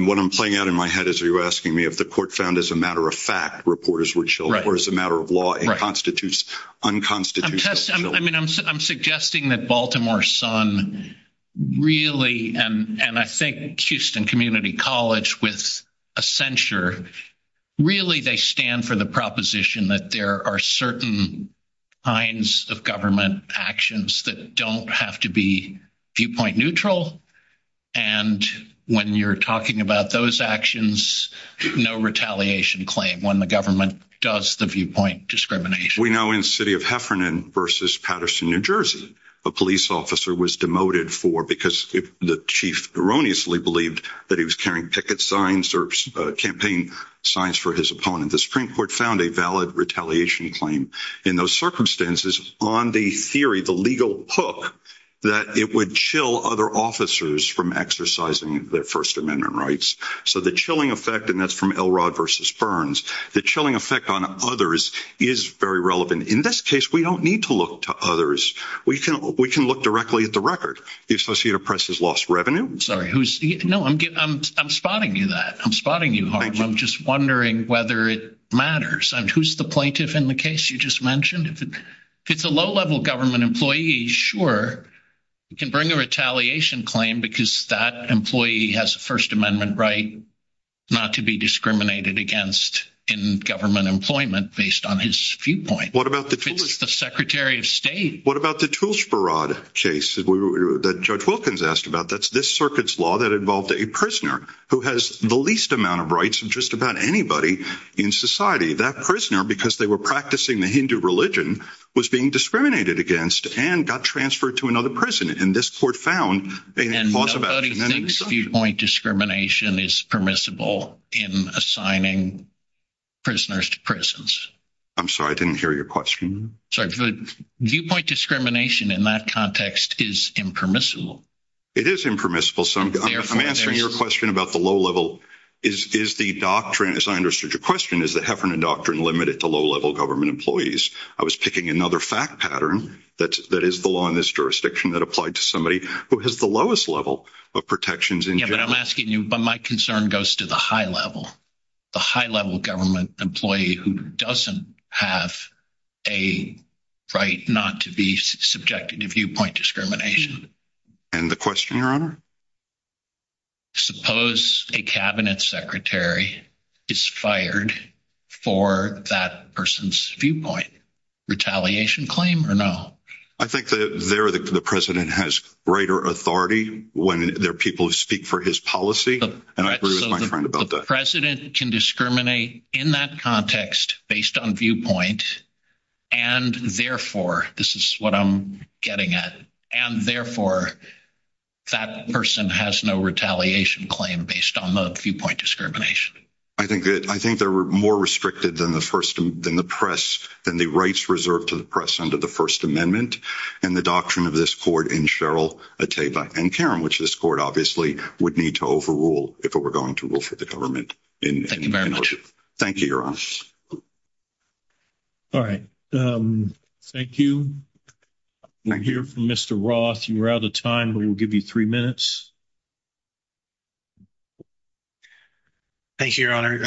What I'm playing out in my head is you're asking me if the court found as a matter of fact reporters were chilled or as a matter of law it constitutes unconstitutional. I mean, I'm suggesting that Baltimore Sun really, and I think Houston Community College with a censure, really they stand for the proposition that there are certain kinds of government actions that don't have to be viewpoint neutral. And when you're talking about those actions, no retaliation claim when the government does the viewpoint discrimination. We know in the city of Heffernan versus Patterson, New Jersey, a police officer was demoted for the chief erroneously believed that he was carrying picket signs or campaign signs for his opponent. The Supreme Court found a valid retaliation claim in those circumstances on the theory, the legal hook, that it would chill other officers from exercising their First Amendment rights. So the chilling effect, and that's from Elrod versus Burns, the chilling effect on others is very relevant. In this case, we don't need to look to others. We can, we can look directly at the record. The Associated Press has lost revenue. Sorry, who's? No, I'm spotting you that. I'm spotting you. I'm just wondering whether it matters. And who's the plaintiff in the case you just mentioned? If it's a low-level government employee, sure, you can bring a retaliation claim because that employee has a First Amendment right not to be discriminated against in government employment based on his viewpoint. What about the Secretary of State? What about the tools for rod case that Judge Wilkins asked about? That's this circuit's law that involved a prisoner who has the least amount of rights of just about anybody in society. That prisoner, because they were practicing the Hindu religion, was being discriminated against and got transferred to another prison. And this court found. And nobody thinks viewpoint discrimination is permissible in assigning prisoners to prisons. I'm sorry, I didn't hear your question. Viewpoint discrimination in that context is impermissible. It is impermissible. So I'm answering your question about the low-level. Is the doctrine, as I understood your question, is the Heffernan doctrine limited to low-level government employees? I was picking another fact pattern that is the law in this jurisdiction that applied to somebody who has the lowest level of protections. Yeah, but I'm asking you, but my concern goes to the high level. The high-level government employee who doesn't have a right not to be subjected to viewpoint discrimination. And the question, Your Honor? Suppose a cabinet secretary is fired for that person's viewpoint, retaliation claim or no? I think that there, the president has greater authority when there are people who speak for his policy. And I agree with my friend about that. President can discriminate in that context based on viewpoint. And therefore, this is what I'm getting at. And therefore, that person has no retaliation claim based on the viewpoint discrimination. I think that, I think they're more restricted than the first, than the press, than the rights reserved to the press under the First Amendment and the doctrine of this court in Sheryl Atteba and Karen, which this court obviously would need to overrule if it were going to the government. Thank you, Your Honor. All right. Thank you. We'll hear from Mr. Roth. You're out of time. We will give you three minutes. Thank you, Your Honor.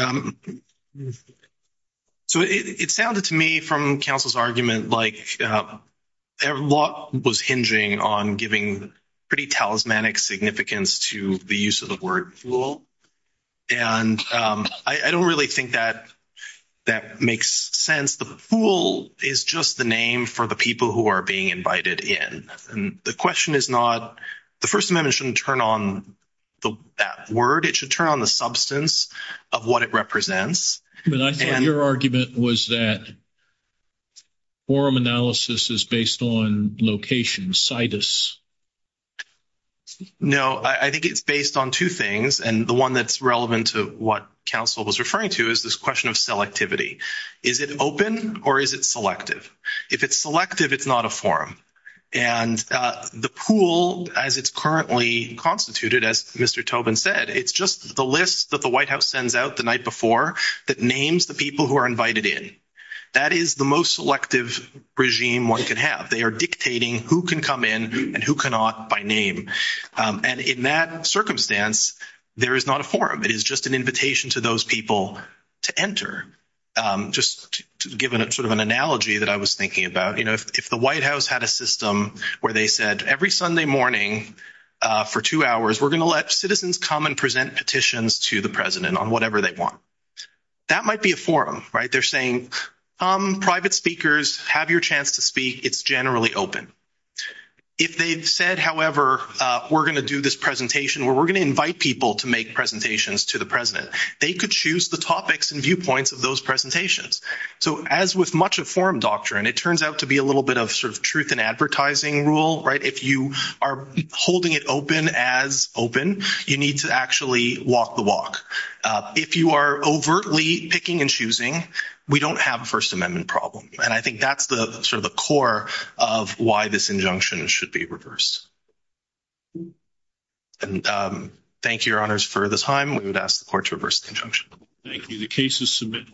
So it sounded to me from counsel's argument like what was hinging on giving pretty talismanic significance to the use of the word fool. And I don't really think that that makes sense. The fool is just the name for the people who are being invited in. And the question is not, the First Amendment shouldn't turn on that word. It should turn on the substance of what it represents. But I thought your argument was that forum analysis is based on location, situs. No, I think it's based on two things. And the one that's relevant to what counsel was referring to is this question of selectivity. Is it open or is it selective? If it's selective, it's not a forum. And the pool, as it's currently constituted, as Mr. Tobin said, it's just the list that the White House sends out the night before that names the people who are invited in. That is the most selective regime one can have. They are dictating who can come in and who cannot by name. And in that circumstance, there is not a forum. It is just an invitation to those people to enter. Just to give sort of an analogy that I was thinking about, you know, if the White House had a system where they said every Sunday morning for two hours, we're going to let citizens come and present petitions to the president on whatever they want. That might be a forum, right? They're saying, come, private speakers, have your chance to speak. It's generally open. If they've said, however, we're going to do this presentation where we're going to invite people to make presentations to the president, they could choose the topics and viewpoints of those presentations. So as with much of forum doctrine, it turns out to be a little bit of sort of truth in advertising rule, right? If you are holding it open as open, you need to actually walk the walk. If you are overtly picking and choosing, we don't have a First Amendment problem. And I think that's the sort of the core of why this injunction should be reversed. And thank you, Your Honors, for the time. We would ask the court to reverse the injunction. Thank you. The case is submitted.